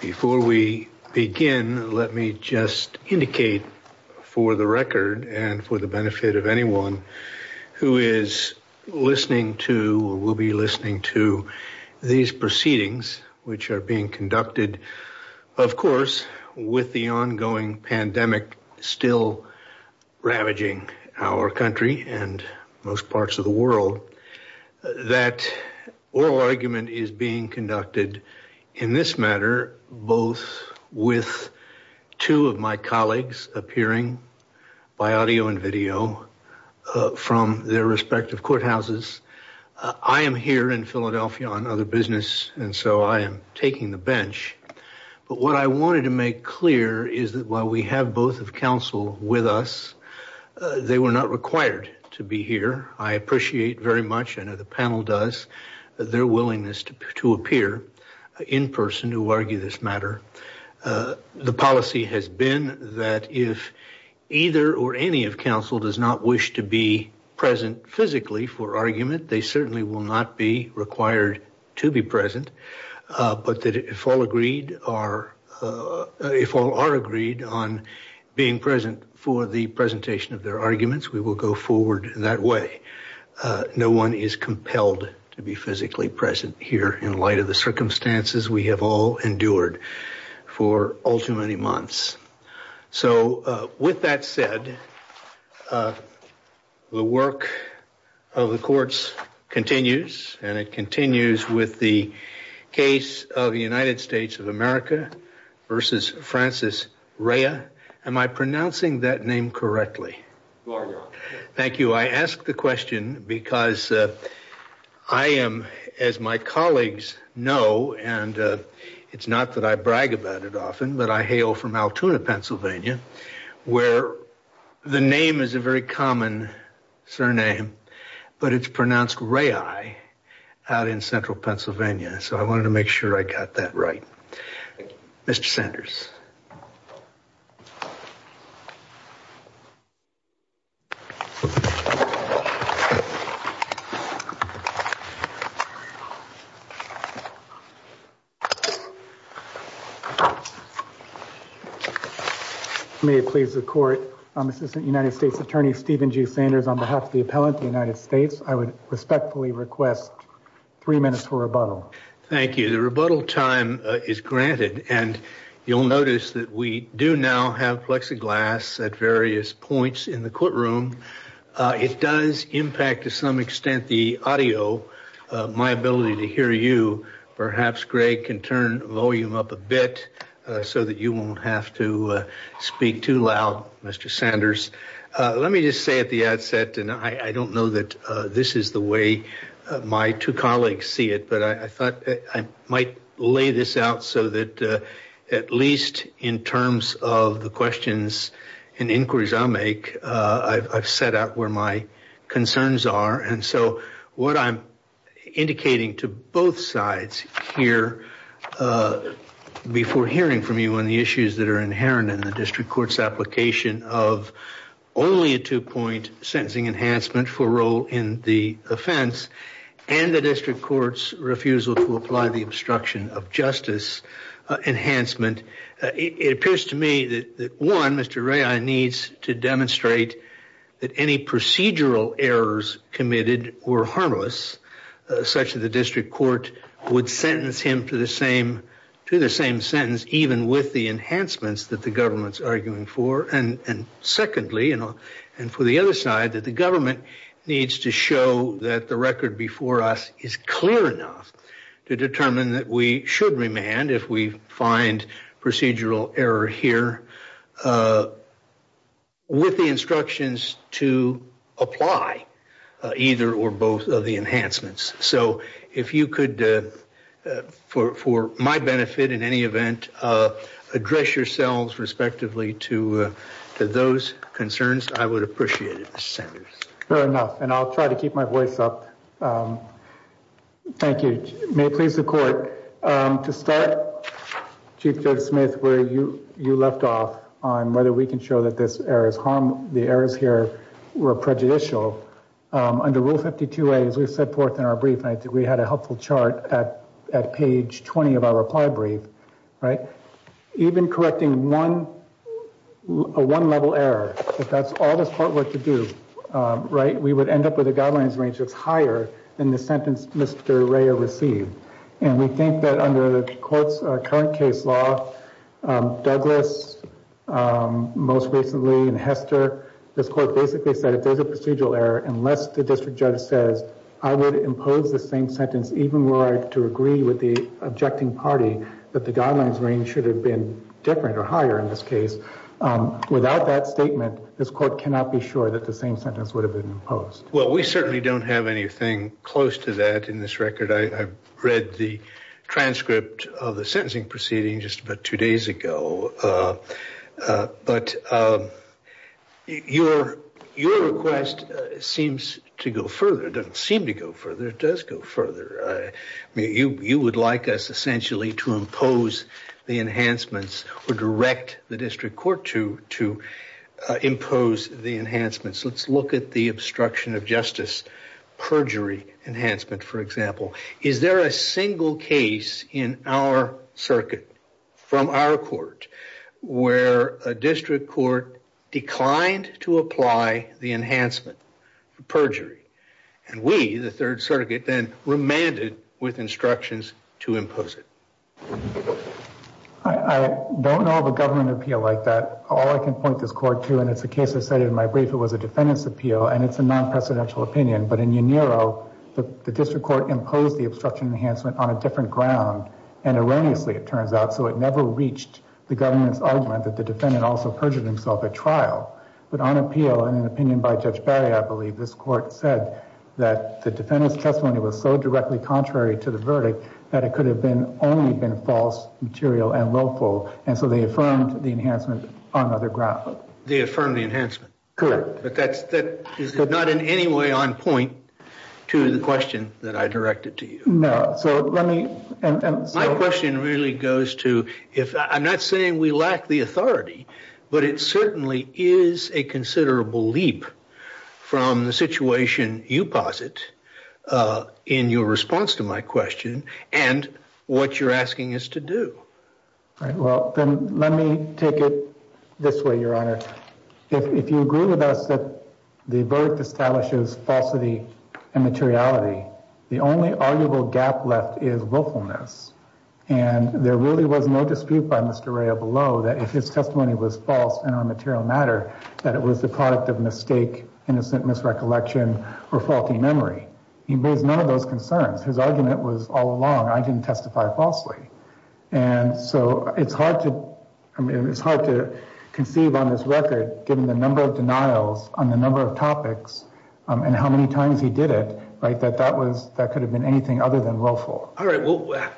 Before we begin, let me just indicate for the record and for the benefit of anyone who is listening to or will be listening to these proceedings, which are being conducted, of course, with the ongoing pandemic still ravaging our country and most parts of the world, that oral argument is being conducted in this matter, both with two of my colleagues appearing by audio and video from their respective courthouses. I am here in Philadelphia on other business, and so I am taking the bench. But what I wanted to make clear is that while we have both of counsel with us, they were not required to be here. I appreciate very much, I know the panel does, their willingness to appear in person to argue this matter. The policy has been that if either or any of counsel does not wish to be present physically for argument, they certainly will not be required to be present. But if all are agreed on being present for the presentation of their arguments, we will go forward that way. No one is compelled to be physically present here in light of the circumstances we have all endured for all too many months. So with that said, the work of the courts continues, and it continues with the case of the United States of America versus Francis Rhea. Am I pronouncing that name correctly? Thank you. I ask the question because I am, as my colleagues know, and it's not that I brag about it often, but I hail from the name is a very common surname, but it's pronounced Rhea out in central Pennsylvania. So I wanted to make sure I got that right. Mr. Sanders. May I please report? I'm Assistant United States Attorney Stephen G. Sanders on behalf of the appellant to the United States. I would respectfully request three minutes for rebuttal. Thank you. The rebuttal time is granted, and you'll notice that we do now have plexiglass at various points in the courtroom. It does impact to some extent the audio, my ability to hear you. Perhaps Greg can turn volume up a bit so that you won't have to speak too loud, Mr. Sanders. Let me just say at the outset, and I don't know that this is the way my two colleagues see it, but I thought I might lay this out so that at least in terms of the questions and inquiries I make, I've set out where my concerns are. And so what I'm indicating to both sides here before hearing from anyone, the issues that are inherent in the district court's application of only a two point sentencing enhancement for role in the offense, and the district court's refusal to apply the obstruction of justice enhancement, it appears to me that one, Mr. Rai needs to demonstrate that any procedural errors committed were harmless, such that the district court would sentence him to the same sentence, even with the enhancements that the government's arguing for. And secondly, and for the other side, that the government needs to show that the record before us is clear enough to determine that we should remand if we find procedural error here, with the instructions to apply either or both of the enhancements. So if you could, for my benefit in any event, address yourselves respectively to those concerns, I would appreciate it, Mr. Sanders. Fair enough, and I'll try to keep my voice up. Thank you. May it please the court, to start, Chief Judge Smith, where you left off on whether we can show that there's errors, the errors here were prejudicial. Under Rule 52A, as we set forth in our brief, I think we had a helpful chart at page 20 of our reply brief, right? Even correcting a one-level error, if that's all the court were to do, right, we would end up with a guidelines range that's higher than the sentence Mr. Rai received. And we think that under the court's current case law, Douglas, most recently, and Hester, this court basically said if there's procedural error, unless the district judge says I would impose the same sentence even were I to agree with the objecting party, that the guidelines range should have been different or higher in this case. Without that statement, this court cannot be sure that the same sentence would have been imposed. Well, we certainly don't have anything close to that in this record. I've read the seems to go further, doesn't seem to go further, it does go further. You would like us essentially to impose the enhancements or direct the district court to impose the enhancements. Let's look at the obstruction of justice perjury enhancement, for example. Is there a single case in our circuit from our court where a district court declined to apply the enhancement perjury? And we, the third circuit, then remanded with instructions to impose it. I don't know of a government appeal like that. All I can point this court to, and it's the case I stated in my brief, it was a defendant's appeal and it's a non-presidential opinion. But in Uniro, the district court imposed the obstruction on a different ground and erroneously, it turns out, so it never reached the government's argument that the defendant also perjured himself at trial. But on appeal, in an opinion by Judge Barry, I believe this court said that the defendant's testimony was so directly contrary to the verdict that it could have only been false, material, and loathful. And so they affirmed the enhancement on other grounds. They affirmed the enhancement. Correct. But that is not in any way on point to the question that I directed to you. No. My question really goes to, I'm not saying we lack the authority, but it certainly is a considerable leap from the situation you posit in your response to my question and what you're asking us to do. All right. Well, then let me take it this way, Your Honor. If you agree with us that the verdict establishes falsity and materiality, the only arguable gap left is willfulness. And there really was no dispute by Mr. Rea below that if his testimony was false in our material matter, that it was the product of mistake, innocent misrecollection, or faulty memory. He raised none of those concerns. His argument was I didn't testify falsely. And so it's hard to conceive on this record, given the number of denials on the number of topics and how many times he did it, that could have been anything other than willful. All right.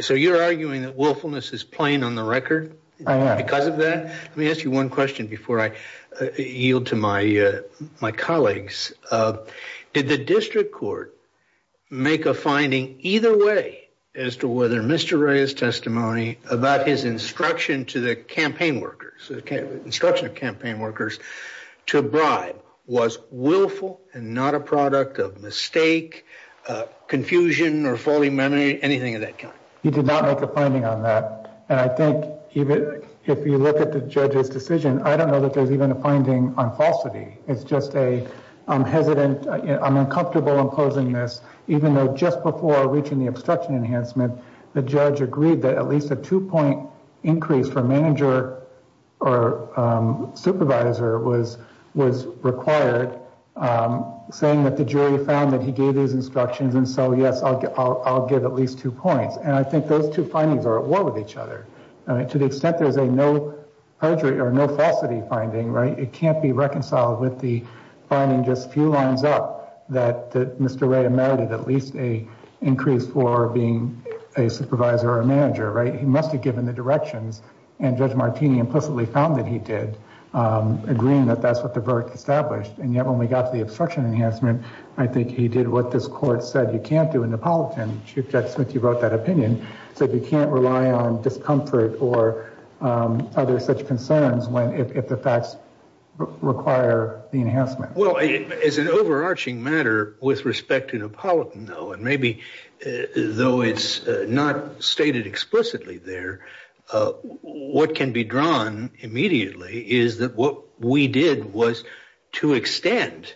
So you're arguing that willfulness is plain on the record because of that? Let me ask you one question before I yield to my colleagues. Did the district court make a finding either way as to whether Mr. Rea's testimony about his instruction to the campaign workers, the instruction of campaign workers to bribe was willful and not a product of mistake, confusion, or faulty memory, anything of that kind? He did not make a finding on that. And I think even if you look at the judge's decision, I don't know that there's even a miss, even though just before reaching the obstruction enhancement, the judge agreed that at least a two-point increase for manager or supervisor was required, saying that the jury found that he gave these instructions. And so, yes, I'll give at least two points. And I think those two findings are at war with each other. To the extent there's a no falsity finding, right, it can't be reconciled with the finding just a few lines up that Mr. Rea noted at least an increase for being a supervisor or a manager, right? He must be given the directions. And Judge Martini implicitly found that he did, agreeing that that's what the verdict established. And yet when we got to the obstruction enhancement, I think he did what this court said you can't do in the politics, since you wrote that opinion, said you can't rely on discomfort or other such require the enhancement. Well, it's an overarching matter with respect to the political and maybe though it's not stated explicitly there, what can be drawn immediately is that what we did was to extend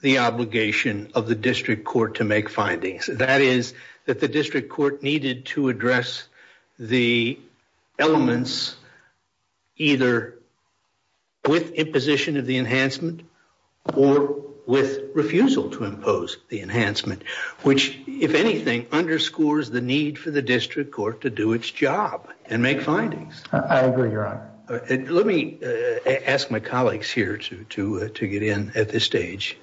the obligation of the district court to make findings. That is that the district court needed to address the elements either with imposition of the enhancement or with refusal to impose the enhancement, which if anything, underscores the need for the district court to do its job and make findings. I agree, Your Honor. Let me ask my colleagues here to get in at this stage.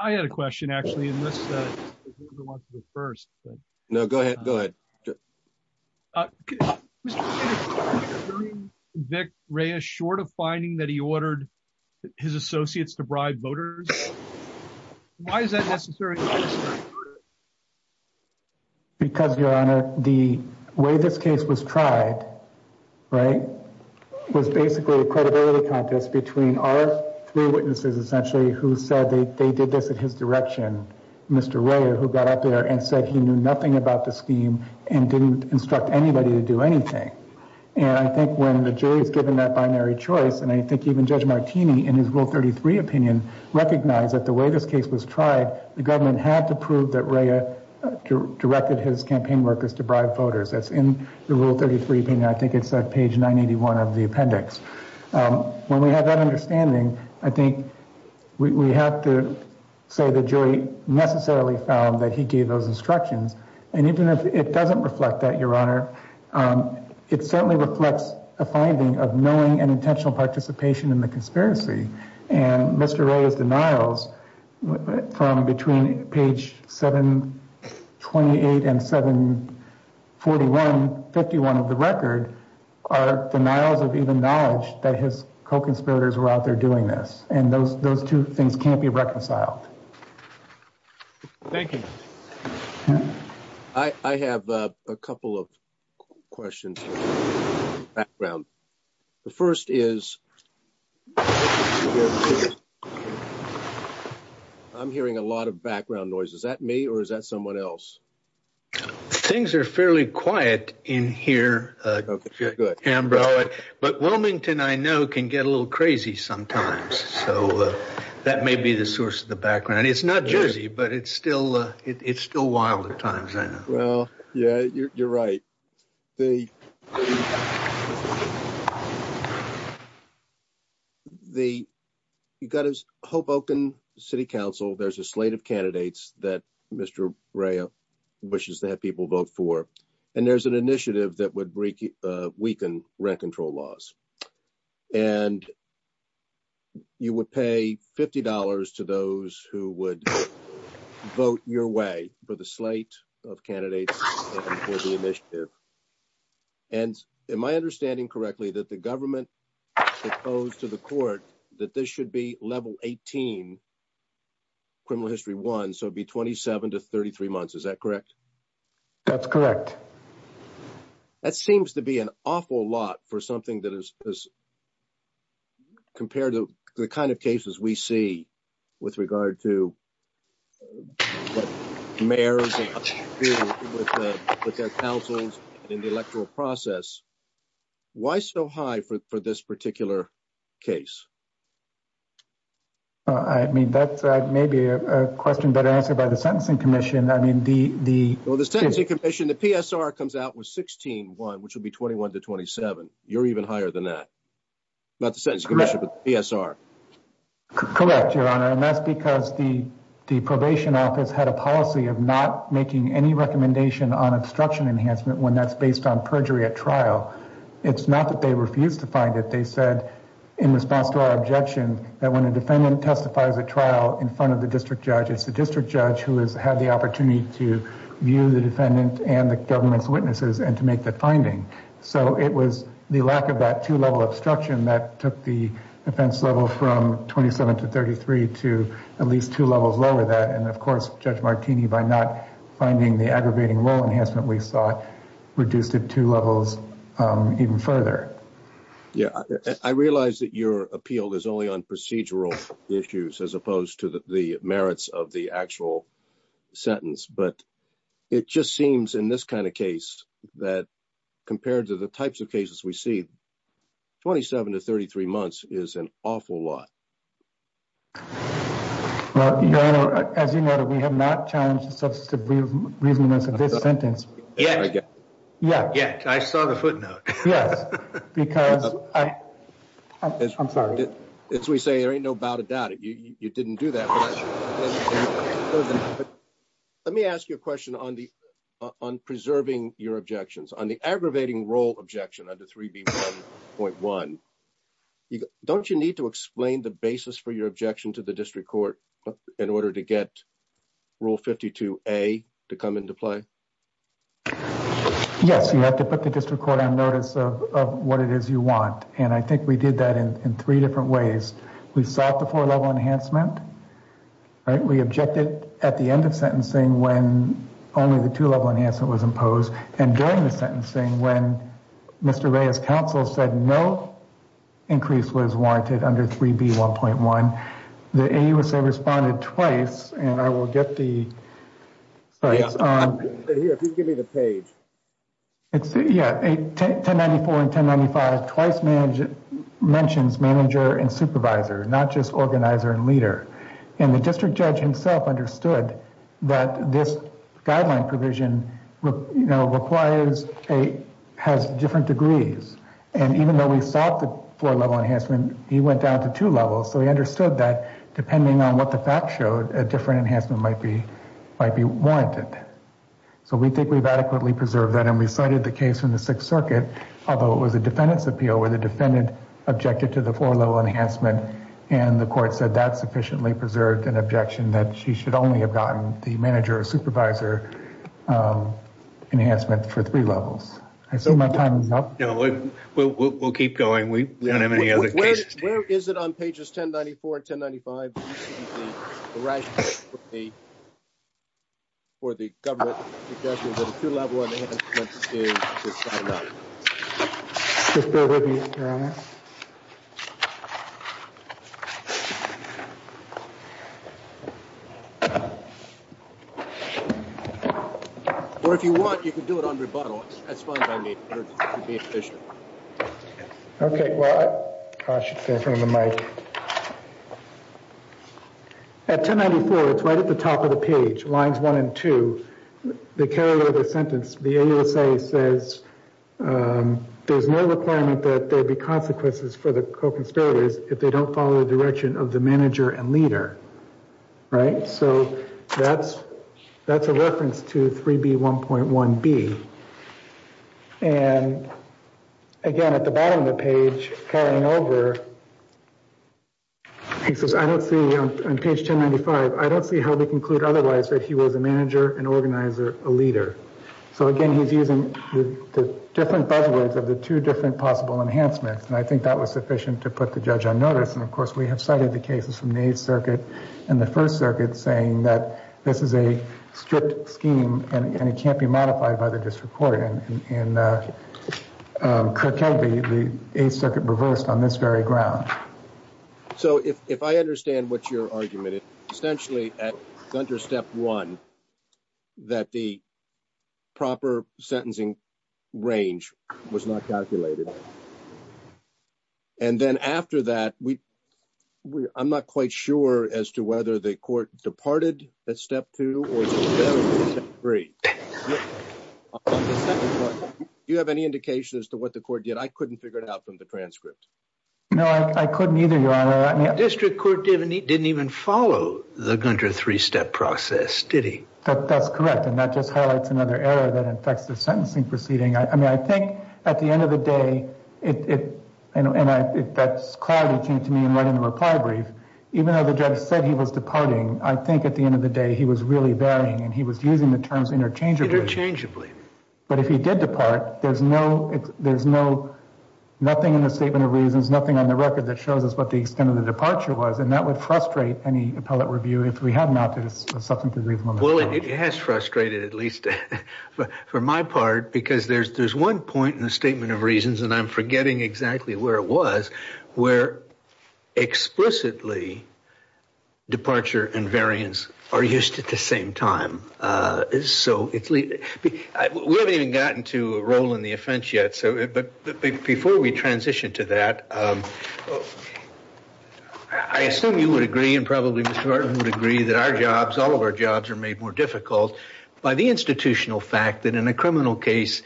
I had a question actually. No, go ahead, go ahead. Vic Ray is short of finding that he ordered his associates to bribe voters. Why is that necessary? Because Your Honor, the way this case was tried, right, was basically a credibility contest between our witnesses, essentially, who said they did this in his direction. Mr. Ray, who got out there and said he knew nothing about the scheme and didn't instruct anybody to do anything. And I think when the jury is given that binary choice, and I think even Judge Martini in his Rule 33 opinion recognized that the way this case was tried, the government had to prove that Ray directed his campaign workers to bribe voters. That's in the Rule 33 opinion. I think it's on page 981 of the appendix. When we have that understanding, I think we have to say the jury necessarily found that he gave those instructions. And even if it doesn't reflect that, Your Honor, it certainly reflects a finding of knowing and intentional participation in the are denials of even knowledge that his co-conspirators were out there doing this. And those those two things can't be reconciled. Thank you. I have a couple of questions. Background. The first is I'm hearing a lot of background noise. Is that me or is that someone else? The things are fairly quiet in here. But Wilmington, I know, can get a little crazy sometimes. So that may be the source of the background. It's not Jersey, but it's still it's still wild at times. Well, yeah, you're right. The. The you've got his hope open city council. There's a slate of candidates that Mr. Raya wishes that people vote for. And there's an initiative that would weaken rent control laws and. You would pay $50 to those who would vote your way for the slate of candidates for the initiative. And in my understanding correctly, that the government proposed to the court that this should be level 18. Criminal history one, so be 27 to 33 months. Is that correct? That's correct. That seems to be an awful lot for something that is. Compared to the kind of cases we see with regard to. The mayor. But their counsels in the electoral process. Why so high for this particular case? I mean, that's maybe a question that I asked about the sentencing commission. I mean, the the sentencing commission, the PSR comes out with 16 one, which would be 21 to 27. You're even higher than that. Correct, your honor. And that's because the probation office had a policy of not making any recommendation on obstruction enhancement when that's based on perjury at trial. It's not that they refused to find it. They said in response to our objection that when a defendant testifies a trial in front of the district judge, it's the district judge who has had the opportunity to view the defendant and the government's witnesses and to make the lack of that two level obstruction that took the defense level from 27 to 33 to at least two levels lower that. And of course, Judge Martini, by not finding the aggravating law enhancement, we saw reduced to two levels even further. Yeah, I realize that your appeal is only on procedural issues as opposed to the merits of the actual sentence. But it just seems in this kind of case that compared to the types of cases we see, 27 to 33 months is an awful lot. Well, your honor, as you know, that we have not changed the substance to really make a good sentence. Yeah, yeah, yeah. I saw the footnote. Yeah. Because I I'm sorry, it's we say there ain't no doubt about it. You didn't do that. But let me ask you a question on the on preserving your objections on the aggravating role objection under three point one. Don't you need to explain the basis for your objection to the district court in order to get rule 52 a to come into play? Yes, you have to put the district court on notice of what it is you want. And I think we did that in three different ways. We stopped the four level enhancement. We objected at the end of sentencing when only the two level enhancement was imposed and during the sentencing when Mr. Reyes counsel said no increase was warranted under three B one point one. The AUSA responded twice and I will get the. Give me the page. It's a ten ninety four and ten ninety five twice mentioned mentions manager and supervisor, not just organizer and leader. And the district judge himself understood that this guideline provision requires a has different degrees. And even though we thought the four level enhancement, he went down to two levels. So he understood that depending on what the facts showed, a different enhancement might be might be warranted. So we think we've adequately preserved that and recited the case in the Sixth Circuit, although it was a defendant's appeal where the defendant objected to the four level enhancement and the court said that sufficiently preserved an objection that she should only have gotten the manager or supervisor enhancement for three levels. I think my time is up. We'll keep going. We don't have any other where is it on pages ten, ninety four, ten, ninety five. For the government. What do you want? You can do it on the bottom. That's fine. To be efficient. At ten ninety four, it's right at the top of the page, lines one and two, the carrier sentence, the AUSA says there's no requirement that there be consequences for the conspirators if they don't follow the direction of the manager and leader. Right. So that's that's a reference to three B, one point one B. And again, at the bottom of the page, carrying over. He says, I don't see on page ten, ninety five, I don't see how we conclude otherwise that he was a manager and organizer, a leader. So again, he's using the different buzzwords of the two different possible enhancements. And I think that was sufficient to put the judge on notice. And of course, we have cited the cases from the Eighth Circuit and the First Circuit saying that this is a strict scheme and it can't be modified by the district court. And that could tell you the Eighth Circuit reversed on this very ground. So if I understand what your argument is, essentially under step one, that the proper sentencing range was not calculated. And then after that, we I'm not quite sure as to whether the court departed at step two or three. Do you have any indication as to what the court did? I couldn't figure it out from the transcripts. No, I couldn't either. The district court didn't even follow the three step process, did he? That's correct. And that just highlights another area that affects the sentencing proceeding. I know the judge said he was departing. I think at the end of the day, he was really varying and he was using the terms interchangeably. But if he did depart, there's no there's no nothing in the statement of reasons, nothing on the record that shows us what the extent of the departure was. And that would frustrate any appellate reviewer if we had not. Well, it has frustrated at least for my part, because there's there's one point in the statement of reasons, and I'm forgetting exactly where it was, where explicitly departure and variance are used at the same time. So we haven't even gotten to a role in the offense yet. But before we transition to that, I assume you would agree and probably would agree that our jobs, all of our jobs are made more difficult by the institutional fact that in a criminal case,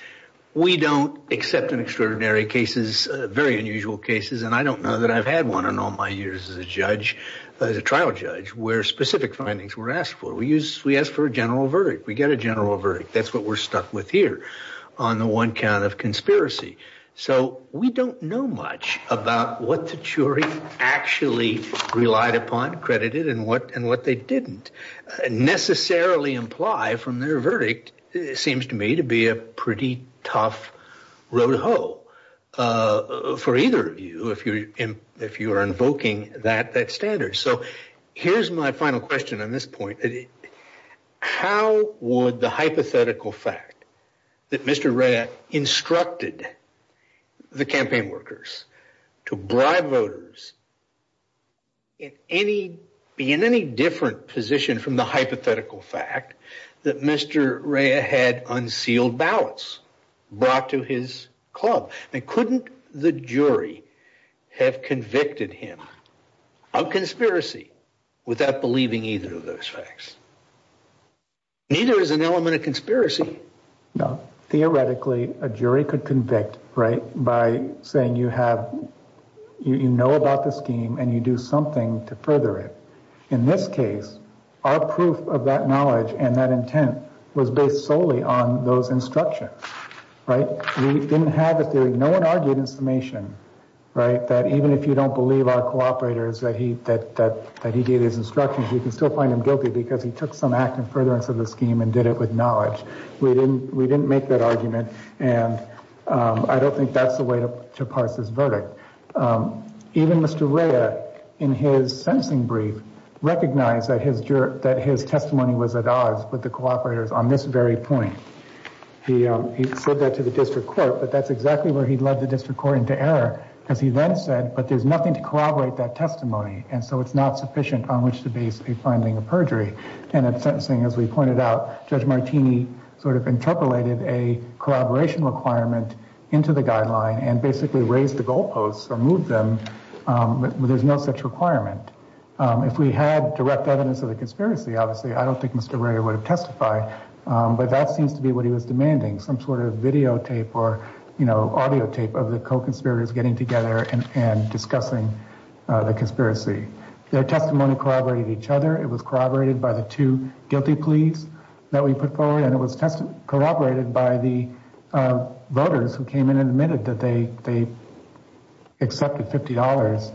we don't accept an extraordinary cases, very unusual cases. And I don't know that I've had one in all my years as a judge, as a trial judge where specific findings were asked for. We use we ask for a general verdict. We get a general verdict. That's what we're stuck with here on the one kind of conspiracy. So we don't know much about what the jury actually relied upon, credited and what and what they didn't necessarily imply from their verdict. It seems to me to be a pretty tough road. Oh, for either of you, if you're if you're invoking that that standard. So here's my final question on this point. How would the hypothetical fact that Mr. Rea instructed the campaign workers to bribe voters in any be in any different position from the brought to his club? And couldn't the jury have convicted him of conspiracy without believing either of those facts? Neither is an element of conspiracy. No, theoretically, a jury could convict right by saying you have, you know about the scheme and you do something to further it. In this case, our proof of that knowledge and that intent was based solely on those instructions. Right. We didn't have it there. No one argued information right that even if you don't believe our cooperators that he said that he gave his instructions, you can still find him guilty because he took some action further into the scheme and did it with knowledge. We didn't we didn't make that argument. And I don't think that's the way to parse this verdict. Even Mr. Rea, in his sentencing brief, recognized that his juror that his testimony was at odds with the cooperators on this very point. He referred that to the district court, but that's exactly where he led the district court into error, as he then said. But there's nothing to corroborate that testimony. And so it's not sufficient on which to be finding a perjury. And as we pointed out, Judge Martini sort of interpolated a corroboration requirement into the guideline and basically raised the goalposts or them. But there's no such requirement. If we had direct evidence of the conspiracy, obviously, I don't think Mr. Rea would testify. But that seems to be what he was demanding, some sort of videotape or, you know, audio tape of the conspirators getting together and discussing the conspiracy. Their testimony corroborated each other. It was corroborated by the two guilty pleas that we put forward, and it was corroborated by the voters who came in and admitted that they accepted $50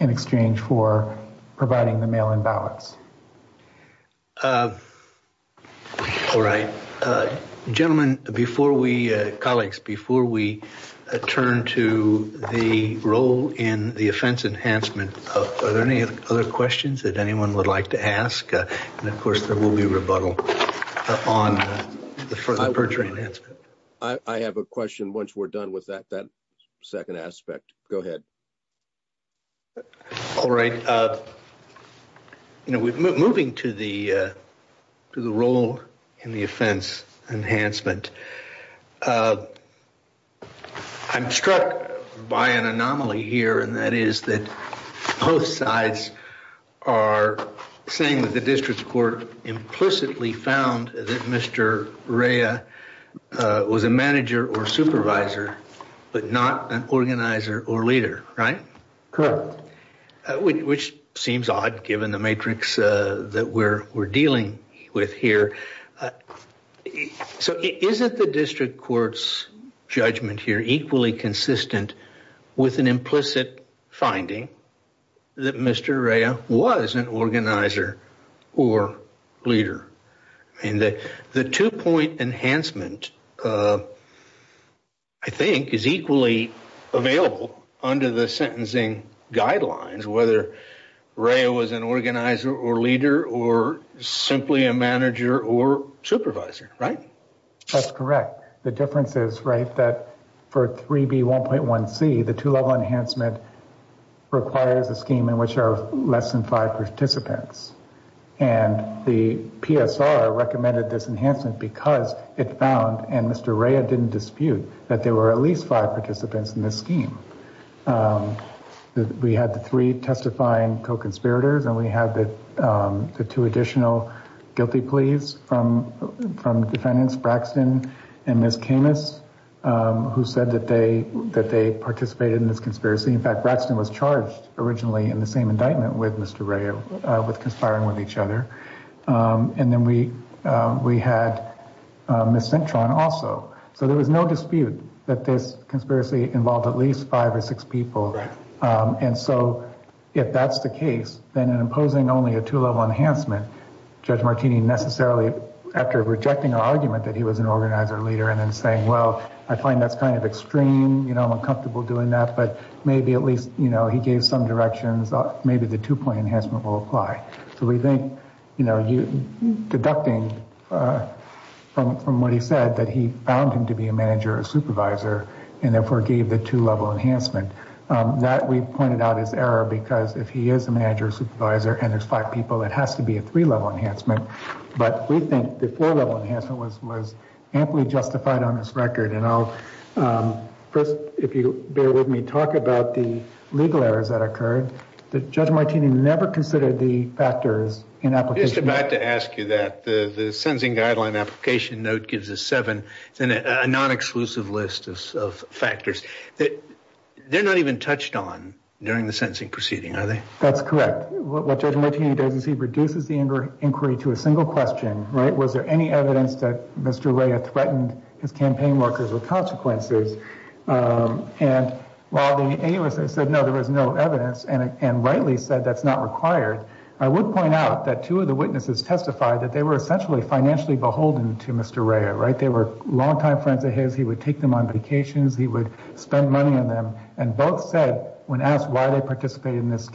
in exchange for providing the mail-in ballots. All right. Gentlemen, before we, colleagues, before we turn to the role in the offense enhancement, are there any other questions that anyone would like to ask? And of course, there will be a rebuttal on the perjury enhancement. I have a question once we're done with that second aspect. Go ahead. All right. Moving to the role in the offense enhancement, I'm struck by an anomaly here, and that is that both sides are saying that the District Court implicitly found that Mr. Rea was a manager or supervisor, but not an organizer or leader, right? Which seems odd, given the matrix that we're dealing with here. So isn't the District Court's judgment here equally consistent with an implicit finding that Mr. Rea was an organizer or leader? And the two-point enhancement, I think, is equally available under the sentencing guidelines, whether Rea was an organizer or leader or simply a manager or supervisor, right? That's correct. The difference is, right, that for 3B1.1c, the two-level enhancement requires a scheme in which there are less than five participants. And the PSR recommended this enhancement because it found, and Mr. Rea didn't dispute, that there were at least five participants in the scheme. We had the three testifying co-conspirators, and we have the two additional guilty pleas from defendants Braxton and Ms. Camus, who said that they participated in this conspiracy. In fact, Braxton was charged originally in the same indictment with Mr. Rea, with conspiring with each other. And then we had Ms. Centron also. So there was no dispute that this conspiracy involved at least five or six people. And so if that's the case, then imposing only a two-level enhancement, Judge Martini necessarily, after rejecting our argument that he was an organizer or leader, and then saying, well, I find that kind of extreme, you know, I'm uncomfortable doing that, but maybe at least, you know, he gave some direction, maybe the two-point enhancement will apply. So we think, you know, deducting from what he said, that he found him to be a manager or supervisor and therefore gave the two-level enhancement. That we've pointed out is error because if he is a two-level enhancement, it's a three-level enhancement. But we think the four-level enhancement was most amply justified on this record. And I'll first, if you bear with me, talk about the legal errors that occurred. Judge Martini never considered the factors in application. I was about to ask you that. The sentencing guideline application note gives us seven, a non-exclusive list of factors. They're not even touched on during the sentencing proceeding, are they? That's correct. What Judge Martini said was that there was no evidence that Mr. Rea threatened his campaign workers with consequences. And while the analysts said no, there was no evidence, and rightly said that's not required, I would point out that two of the witnesses testified that they were essentially financially beholden to Mr. Rea, right? They were longtime friends of his. He would take them on vacations. He would spend money on them. And both said, when asked why they participated in this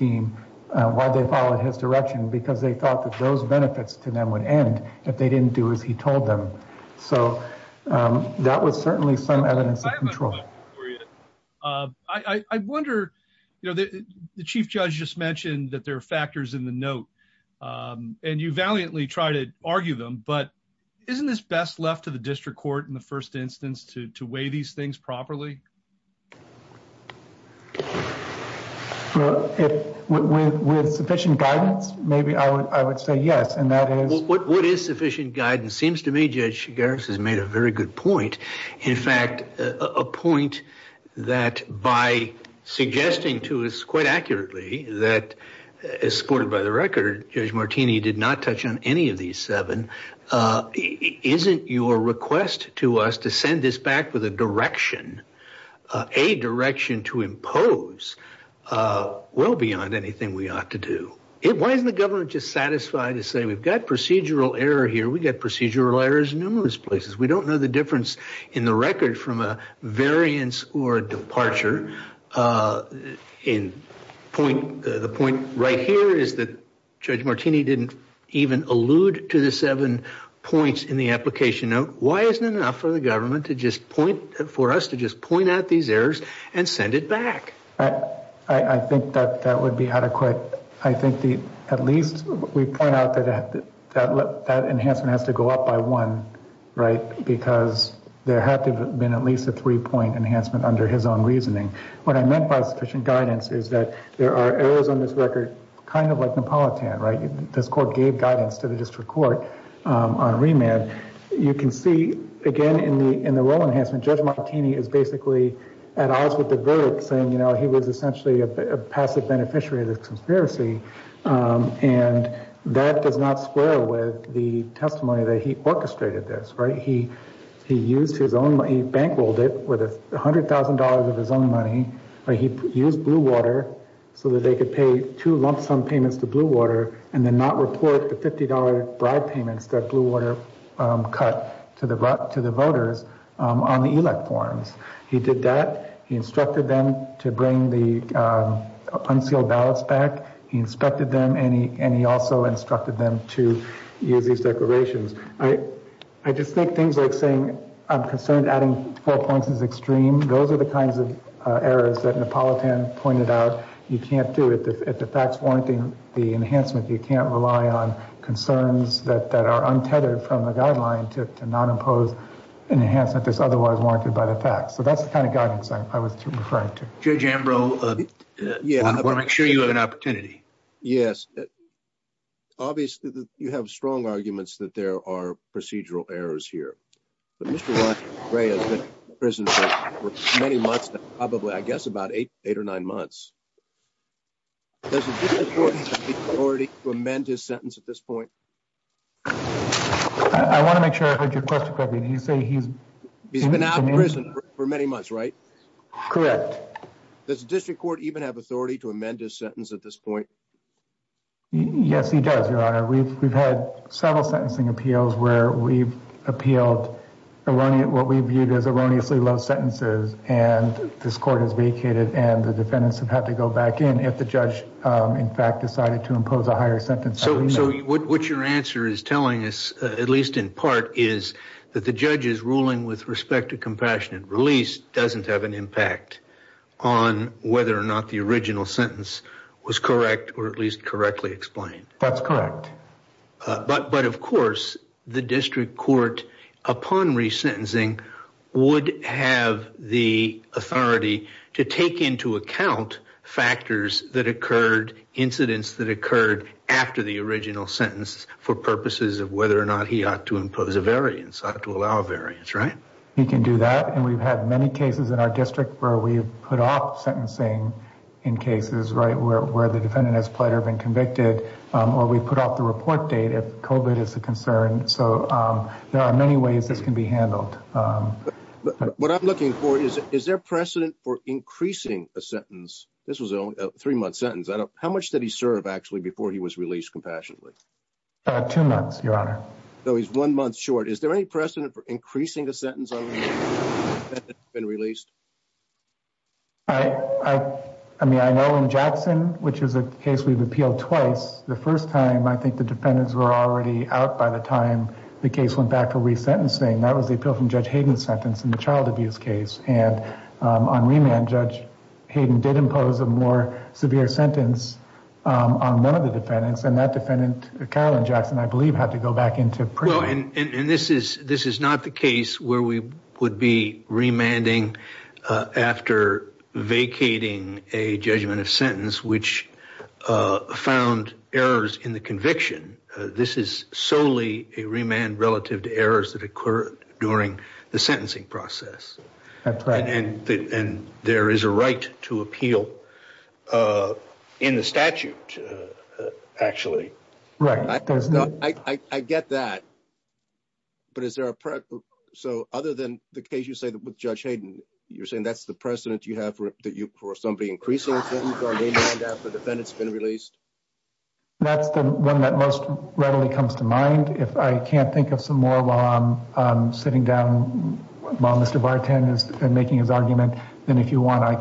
direction, because they thought that those benefits to them would end if they didn't do as he told them. So that was certainly some evidence of control. I wonder, you know, the Chief Judge just mentioned that there are factors in the note, and you valiantly try to argue them, but isn't this best left to the district court in the first instance to weigh these things properly? Well, with sufficient guidance, maybe I would say yes. What is sufficient guidance? It seems to me Judge Chigaris has made a very good point. In fact, a point that by suggesting to us quite accurately that, escorted by the record, Judge Martini did not touch on any of these seven. Isn't your request to us to send this back with a direction, a direction to impose, well beyond anything we ought to do? Why isn't the government just satisfied to say we've got procedural error here? We've got procedural errors in numerous places. We don't know the difference in the record from a variance or a departure. The point right here is that Judge Martini didn't even allude to the seven points in the application note. Why isn't it enough for the government to just point, for us to just point out these errors and send it back? I think that that would be adequate. I think at least we point out that that enhancement has to go up by one, right, because there had to have been at least a three-point enhancement under his own reasoning. What I meant by sufficient guidance is that there are errors in this record, kind of like Napolitan, right? This court gave guidance to the district court on remand. You can see, again, in the well enhancement, Judge Martini is basically at odds with the verdict, saying, you know, he was essentially a passive beneficiary of the conspiracy, and that does not square with the testimony that he orchestrated this, right? He used his own money, bankrolled it with $100,000 of his own money, but he used Blue Water so that they could pay two lump-sum payments to Blue Water and then not report the $50 bribe payments that Blue Water cut to the voters on the elect forums. He did that. He instructed them to bring the unsealed ballots back. He inspected them, and he also instructed them to use these declarations, right? I just think things I'm concerned adding four points is extreme. Those are the kinds of errors that Napolitan pointed out. You can't do it. If the fact's warranting the enhancement, you can't rely on concerns that are untethered from the guideline to not impose enhancement that's otherwise warranted by the facts. So that's the kind of guidance I was referring to. Judge Ambrose, I want to make sure you have an opportunity. Yes. Obviously, you have strong arguments that there are procedural errors here, but Mr. Ray has been in prison for many months, probably, I guess, about eight or nine months. Does the District Court even have authority to amend his sentence at this point? I want to make sure I heard your question correctly. You say he's been out of prison for many months, right? Correct. Does the District Court even have authority to amend his sentence at this point? Yes, he does, Your Honor. We've had several sentencing appeals where we've appealed what we viewed as erroneously low sentences, and this court has vacated, and the defendants would have to go back in if the judge, in fact, decided to impose a higher sentence. What your answer is telling us, at least in part, is that the judge's ruling with respect to compassionate release doesn't have an impact on whether or not the original sentence was correct or at least correctly explained. That's correct. But, of course, the District Court, upon resentencing, would have the authority to take into account factors that occurred, incidents that occurred after the original sentence for purposes of whether or not he ought to impose a variance, ought to allow a variance, right? He can do that, and we've had many cases in our district where we've put off sentencing in cases, right, where the defendant has played or been convicted, or we put off the report date if COVID is a concern. So there are many ways this can be handled. What I'm looking for is, is there precedent for increasing a sentence? This was a three-month sentence. How much did he serve, actually, before he was released compassionately? Two months, Your Honor. So he's one month short. Is there any precedent for increasing the sentence? I mean, I know in Jackson, which is a case we've appealed twice, the first time, I think the defendants were already out by the time the case went back for resentencing. That was the appeal from Judge Hayden's sentence in the child abuse case, and on remand, Judge Hayden did impose a more severe sentence on one of the defendants, and that defendant, Caroline Jackson, I believe, had to go back into prison. Well, and this is not the case where we would be remanding after vacating a judgment of sentence which found errors in the conviction. This is solely a remand relative to errors that occur during the sentencing process. That's right. And there is a right to appeal in the statute, actually. Right. I get that, but is there a precedent? So other than the case you said with Judge Hayden, you're saying that's the precedent you have for somebody increasing the sentence on remand after the defendant's been released? That's the one that most readily comes to mind. If I can't think of some more while I'm sitting down, while Mr. Barton is making his argument, then if you want, I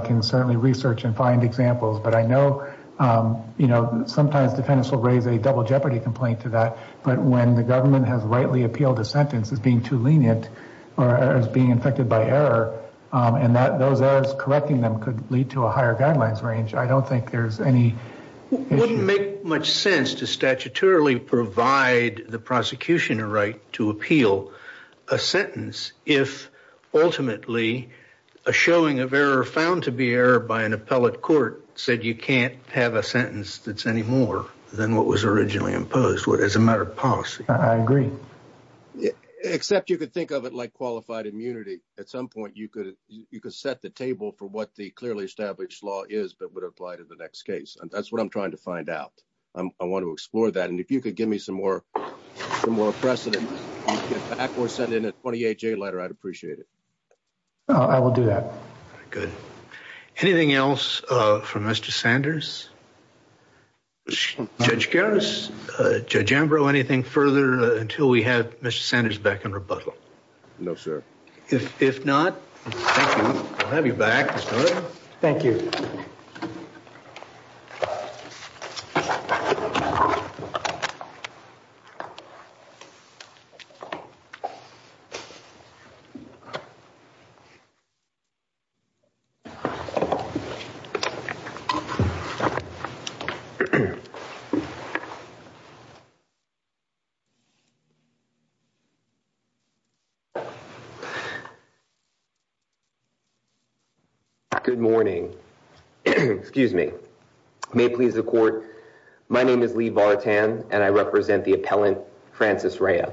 can certainly research and I know sometimes defendants will raise a double jeopardy complaint to that, but when the government has rightly appealed a sentence as being too lenient or as being infected by error, and those errors correcting them could lead to a higher guidelines range, I don't think there's any issue. It wouldn't make much sense to statutorily provide the prosecution a right to appeal a sentence if ultimately a showing of error found to be error by an appellate court said you can't have a sentence that's any more than what was originally imposed, what is a matter of policy. I agree. Except you could think of it like qualified immunity. At some point, you could set the table for what the clearly established law is that would apply to the next case, and that's what I'm trying to find out. I want to explore that, and if you could give me some more precedent, perhaps we'll send in a 28-J letter, I'd appreciate it. I will do that. Good. Anything else from Mr. Sanders? Judge Karras, Judge Ambrose, anything further until we have Mr. Sanders back in rebuttal? No, sir. If not, thank you. I'll have you back. Thank you. Good morning. Excuse me. May it please the court, my name is Lee Vartan, and I represent the appellant, Francis Rea.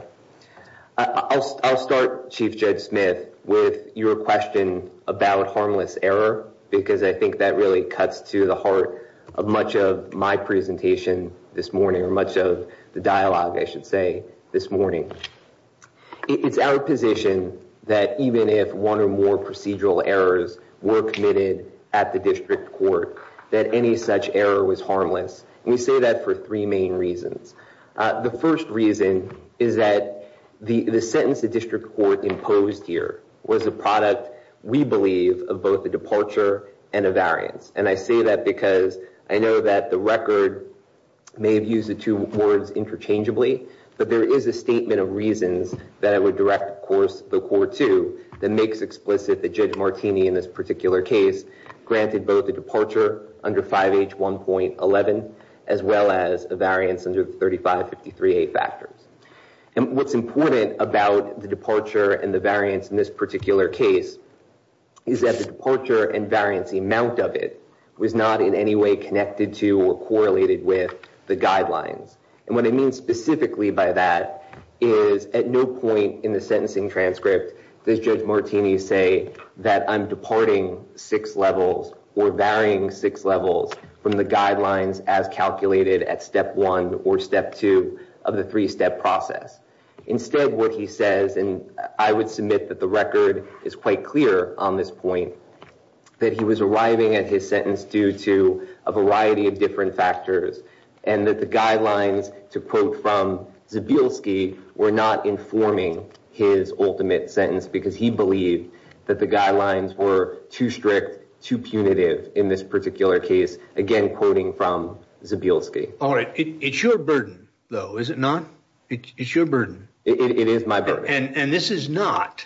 I'll start, Chief Judge Smith, with your question about harmless error, because I think that really cuts to the heart of much of my presentation this morning, or much of the dialogue, I should say, this morning. It's our position that even if one or more procedural errors were committed at the district court, that any such error was harmless. We say that for three main reasons. The first reason is that the sentence the district court imposed here was a product, we believe, of both a departure and a variance. I say that because I know that the record may have used the two words interchangeably, but there is a course, the core two, that makes explicit that Judge Martini, in this particular case, granted both a departure under 5H1.11, as well as a variance under 3553A factors. What's important about the departure and the variance in this particular case is that the departure and variance, the amount of it, was not in any way connected to or correlated with the guidelines. What I mean specifically by that is at no point in the sentencing transcript does Judge Martini say that I'm departing six levels or varying six levels from the guidelines as calculated at step one or step two of the three-step process. Instead, what he says, and I would submit that the record is quite clear on this point, that he was arriving at his sentence due to a variety of different factors and that the guidelines, to quote from Zbilski, were not informing his ultimate sentence because he believed that the guidelines were too strict, too punitive in this particular case. Again, quoting from Zbilski. All right. It's your burden, though, is it not? It's your burden. It is my burden. And this is not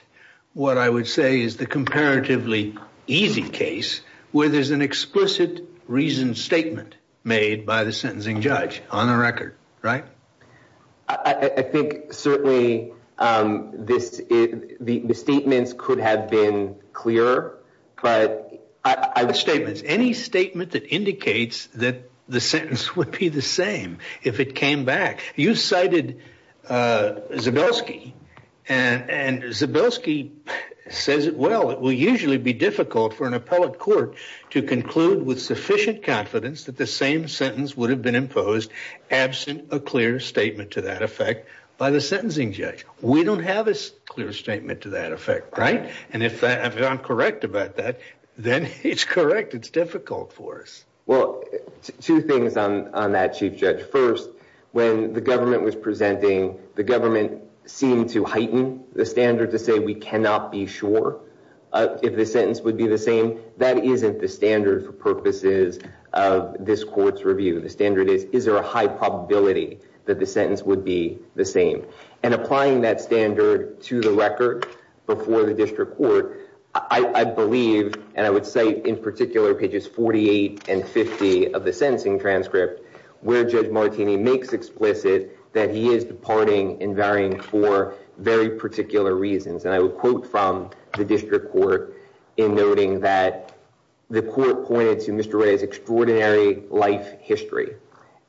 what I would say is the comparatively easy case where there's an explicit reasoned statement made by the sentencing judge on the record, right? I think certainly the statements could have been clear, but I would... Statements. Any statement that indicates that the sentence would be the same if it came back. You cited Zbilski, and Zbilski says, well, it will usually be difficult for an appellate court to conclude with sufficient confidence that the same sentence would have been imposed absent a clear statement to that effect by the sentencing judge. We don't have a clear statement to that effect, right? And if I'm correct about that, then it's correct. It's difficult for us. Two things on that, Chief Judge. First, when the government was presenting, the government seemed to heighten the standard to say we cannot be sure if the sentence would be the same. That isn't the standard for purposes of this court's review of the standard. Is there a high probability that the sentence would be the same? And applying that standard to the record before the district court, I believe, and I would say in particular pages 48 and 50 of the sentencing transcript, where Judge Martini makes explicit that he is departing and varying for very particular reasons. And I would quote from the district court in noting that the court pointed to Mr. Ray's extraordinary life history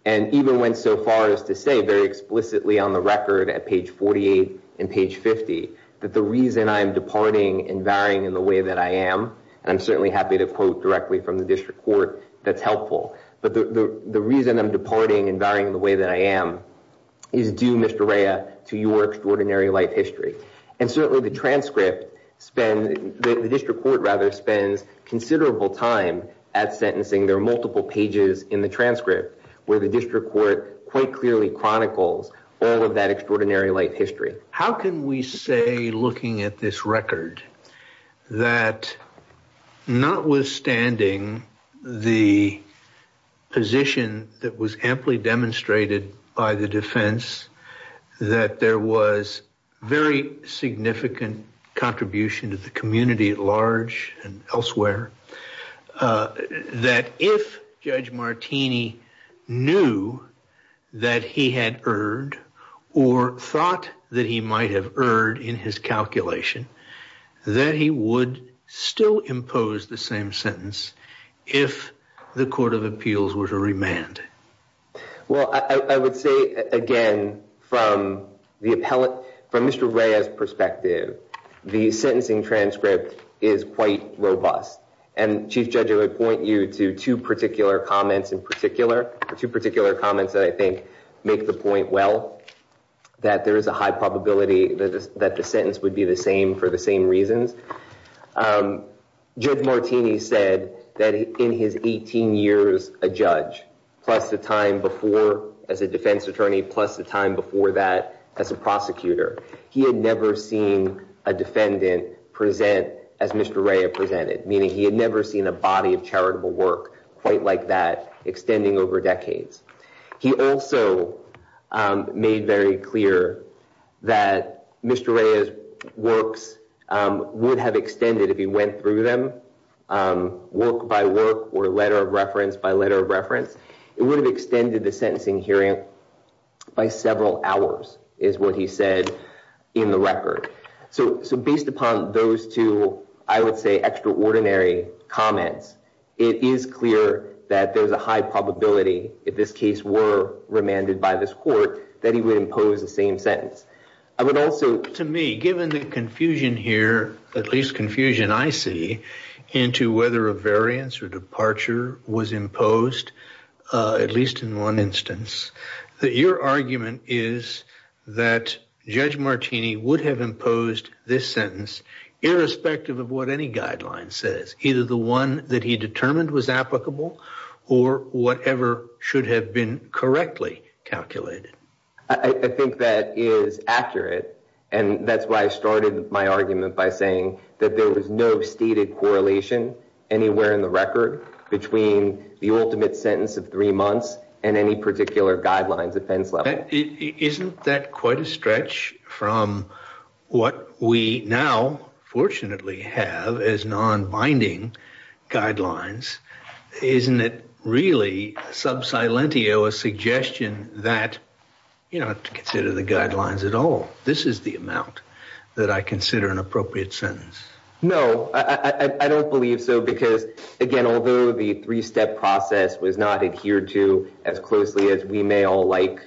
and even went so far as to say very explicitly on the record at page 48 and page 50 that the reason I'm departing and varying in the way that I am, and I'm certainly happy to quote directly from the district court that's helpful, but the reason I'm departing and varying in the way that I am is due, Mr. Ray, to your extraordinary life history. And certainly the transcript spends, the district court rather, spends considerable time at sentencing. There are multiple pages in the transcript where the district court quite clearly chronicle all of that extraordinary life history. How can we say, looking at this record, that notwithstanding the position that was amply demonstrated by the defense, that there was very significant contribution to the community at that he had erred or thought that he might have erred in his calculation, that he would still impose the same sentence if the court of appeals were to remand? Well, I would say, again, from the appellate, from Mr. Ray's perspective, the sentencing transcript is quite robust. And Chief Judge, I would point you to two particular comments in particular, two particular comments that I think make the point well, that there is a high probability that the sentence would be the same for the same reasons. Judge Martini said that in his 18 years a judge, plus the time before as a defense attorney, plus the time before that as a prosecutor, he had never seen a defendant present as Mr. Ray's work quite like that, extending over decades. He also made very clear that Mr. Ray's works would have extended if he went through them work by work or letter of reference by letter of reference. It would have extended the sentencing hearing by several hours, is what he said in the record. So based upon those two, I would say, extraordinary comments, it is clear that there's a high probability, if this case were remanded by this court, that he would impose the same sentence. I would also... To me, given the confusion here, at least confusion I see, into whether a variance or departure was imposed, at least in one instance, that your argument is that Judge Martini would have imposed this sentence, irrespective of what any guideline says. Either the one that he determined was applicable, or whatever should have been correctly calculated. I think that is accurate, and that's why I started my argument by saying that there was no stated correlation anywhere in the record between the ultimate sentence of three months and any what we now, fortunately, have as non-binding guidelines. Isn't it really, sub silentio, a suggestion that, you know, to consider the guidelines at all, this is the amount that I consider an appropriate sentence? No, I don't believe so, because again, although the three-step process was not adhered to as closely as we may all like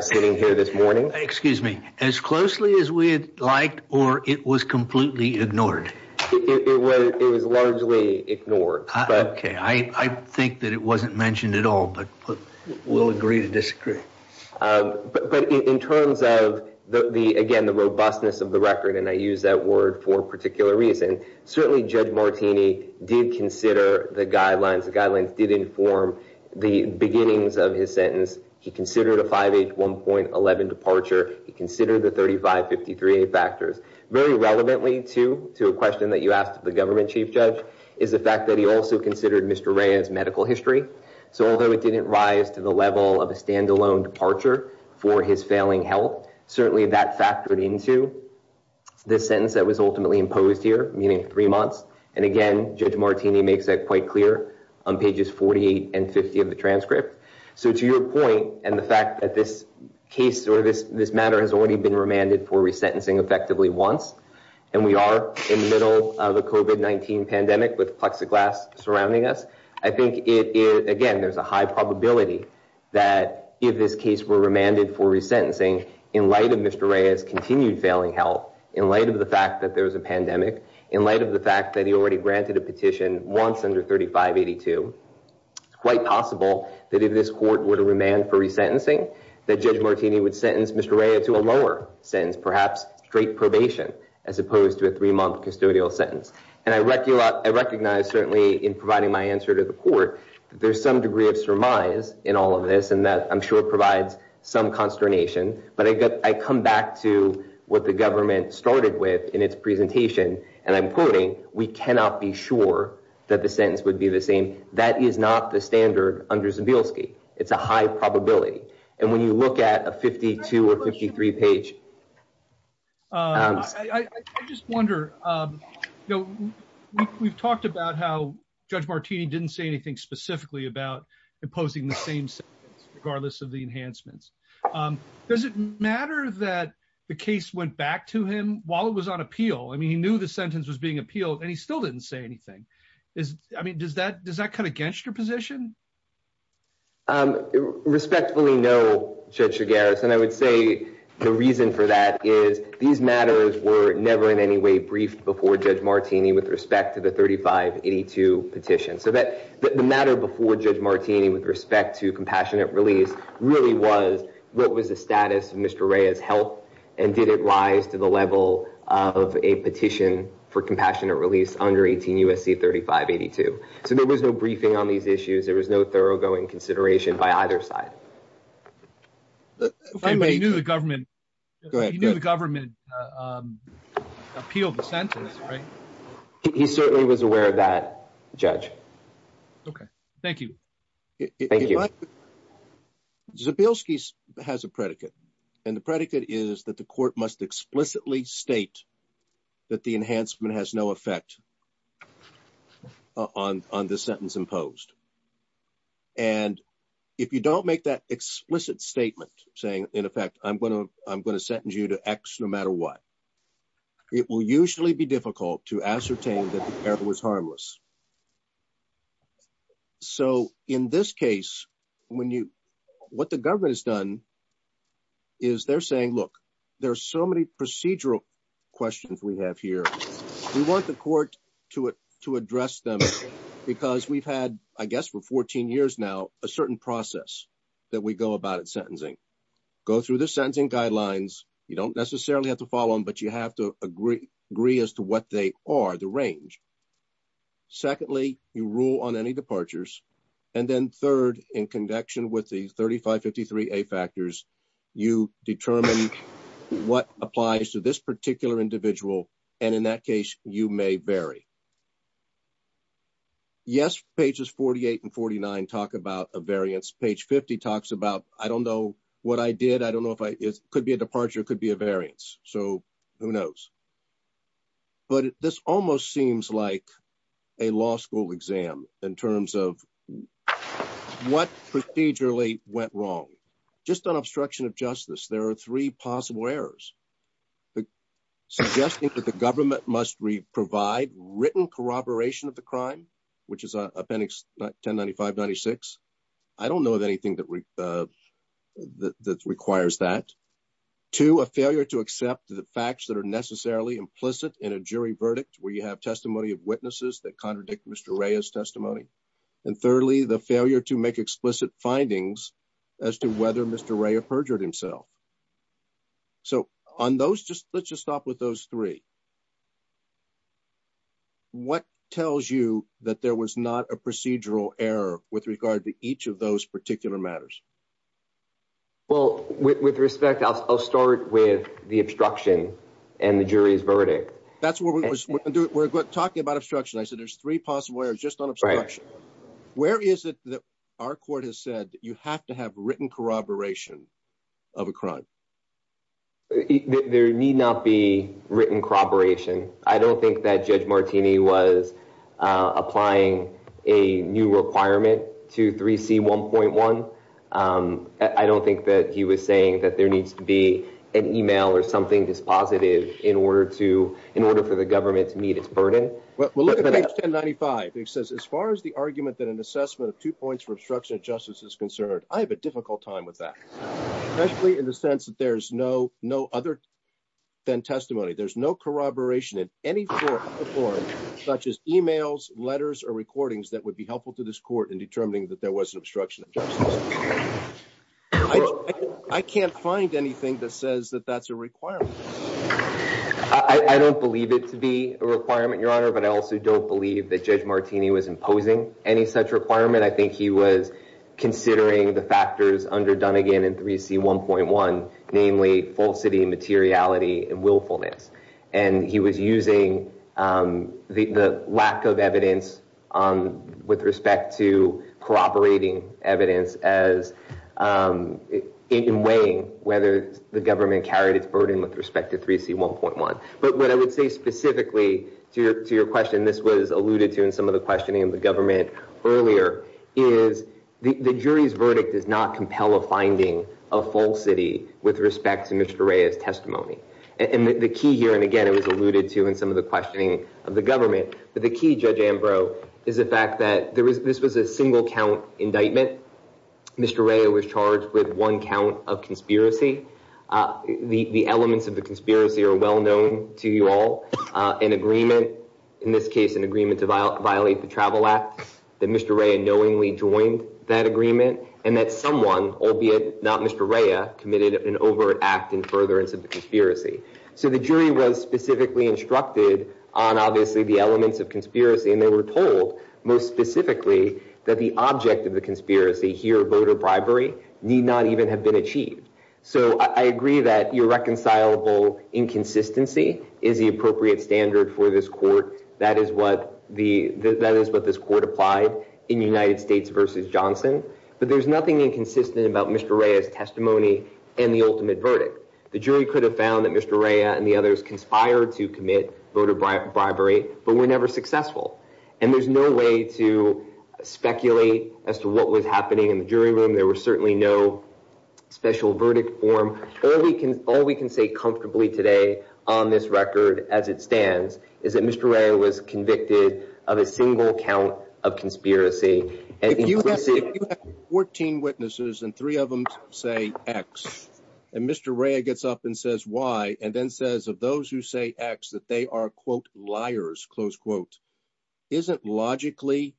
sitting here this morning. Excuse me, as closely as we'd like, or it was completely ignored? It was largely ignored. Okay, I think that it wasn't mentioned at all, but we'll agree to disagree. But in terms of the, again, the robustness of the record, and I use that word for a particular reason, certainly Judge Martini did consider the 5H1.11 departure. He considered the 3553A factors. Very relevantly, too, to a question that you asked the government chief judge, is the fact that he also considered Mr. Rea's medical history. So although it didn't rise to the level of a standalone departure for his failing health, certainly that factored into the sentence that was ultimately imposed here, meaning three months. And again, Judge Martini makes that quite clear on pages 48 and 50 of the transcript. So to your point, and the fact that this case or this matter has already been remanded for resentencing effectively once, and we are in the middle of the COVID-19 pandemic with plexiglass surrounding us, I think it is, again, there's a high probability that if this case were remanded for resentencing, in light of Mr. Rea's continued failing health, in light of the fact that there was a pandemic, in light of the fact that he already granted a petition once under 3582, it's quite possible that if this court were to remand for resentencing, that Judge Martini would sentence Mr. Rea to a lower sentence, perhaps straight probation, as opposed to a three-month custodial sentence. And I recognize, certainly, in providing my answer to the court, that there's some degree of surmise in all of this, and that I'm sure provides some consternation. But I come back to what the government started with in its presentation, and I'm quoting, we cannot be sure that the sentence would be the same. That is not the standard under Zabielski. It's a high probability. And when you look at a 52 or 53 page... I just wonder, we've talked about how Judge Martini didn't say anything specifically about imposing the same sentence, regardless of the enhancements. Does it matter that the case went back to him while it was on appeal? I mean, he knew the sentence was being appealed, and he still didn't say anything. I mean, does that cut against your position? Respectfully, no, Judge Chigares. And I would say the reason for that is these matters were never in any way briefed before Judge Martini with respect to the 3582 petition. So the matter before Judge Martini with respect to compassionate release really was what was the status of Mr. Rea's health, and did it rise to the level of a petition for compassionate release under 18 U.S.C. 3582? So there was no briefing on these issues. There was no thoroughgoing consideration by either side. He knew the government appealed the sentence, right? He certainly was aware of that, Judge. Okay. Thank you. Zabielski has a predicate, and the predicate is that the court must explicitly state that the enhancement has no effect on this sentence imposed. And if you don't make that explicit statement saying, in effect, I'm going to sentence you to X no matter what, it will usually be difficult to ascertain that the error was harmless. So in this case, what the government has done is they're saying, look, there are so many procedural questions we have here. We want the court to address them because we've had, I guess, for 14 years now, a certain process that we go about sentencing. Go through the sentencing guidelines. You don't necessarily have to follow them, but you have to agree as to what they are, the range. Secondly, you rule on any departures. And then third, in conjunction with the 3553A factors, you determine what applies to this particular individual, and in that case, you may vary. Yes, pages 48 and 49 talk about a variance. Page 50 talks about, I don't know what I did. I don't know if it could be a departure, it could be a variance. So who knows? But this almost seems like a law school exam in terms of what procedurally went wrong. Just on obstruction of justice, there are three possible errors. Suggesting that the government must provide written corroboration of the crime, which is a appendix 1095-96. I don't know of anything that requires that. Two, a failure to accept the facts that are necessarily implicit in a jury verdict where you have testimony of witnesses that contradict Mr. Raya's testimony. And thirdly, the failure to make explicit findings as to whether Mr. Raya perjured himself. So on those, let's just stop with those three. What tells you that there was not a procedural error with regard to each of those particular matters? Well, with respect, I'll start with the obstruction and the jury's verdict. That's what we're talking about obstruction. I said there's three possible errors just on obstruction. Where is it that our court has said that you have to have written corroboration of a crime? There need not be written corroboration. I don't think that Judge Martini was applying a new requirement to 3C1.1. I don't think that he was saying that there needs to be an email or something that's positive in order for the government to meet its burden. Well, look at page 1095. It says, as far as the argument that an assessment of two points for obstruction of justice is concerned, I have a difficult time with that. Especially in the sense that there's no other than testimony. There's no corroboration in any form, such as emails, letters, or recordings that would be helpful to this court in determining that there was an obstruction of justice. I can't find anything that says that that's a requirement. I don't believe it to be a requirement, Your Honor, but I also don't believe that Judge Martini was imposing any such requirement. I think he was considering the factors under 3C1.1, namely falsity, materiality, and willfulness. He was using the lack of evidence with respect to corroborating evidence in weighing whether the government carried its burden with respect to 3C1.1. What I would say specifically to your question, this was alluded to in some of the questioning of the government earlier, is the jury's verdict does not compel a finding of falsity with respect to Mr. Rea's testimony. The key here, and again, it was alluded to in some of the questioning of the government, but the key, Judge Ambrose, is the fact that this was a single count indictment. Mr. Rea was charged with one count of conspiracy. The elements of the Travel Act, that Mr. Rea knowingly joined that agreement, and that someone, albeit not Mr. Rea, committed an overt act in furtherance of the conspiracy. The jury was specifically instructed on, obviously, the elements of conspiracy. They were told, most specifically, that the object of the conspiracy here, voter bribery, need not even have been achieved. I agree that irreconcilable inconsistency is the appropriate standard for this court. That is what this court applied in United States versus Johnson, but there's nothing inconsistent about Mr. Rea's testimony and the ultimate verdict. The jury could have found that Mr. Rea and the others conspired to commit voter bribery, but were never successful. There's no way to speculate as to what was happening in the jury room. There was certainly no special verdict form. All we can say comfortably today on this record, as it stands, is that Mr. Rea was convicted of a single count of conspiracy. If you have 14 witnesses and three of them say X, and Mr. Rea gets up and says Y, and then says of those who say X that they are, quote, liars, close quote, is it logically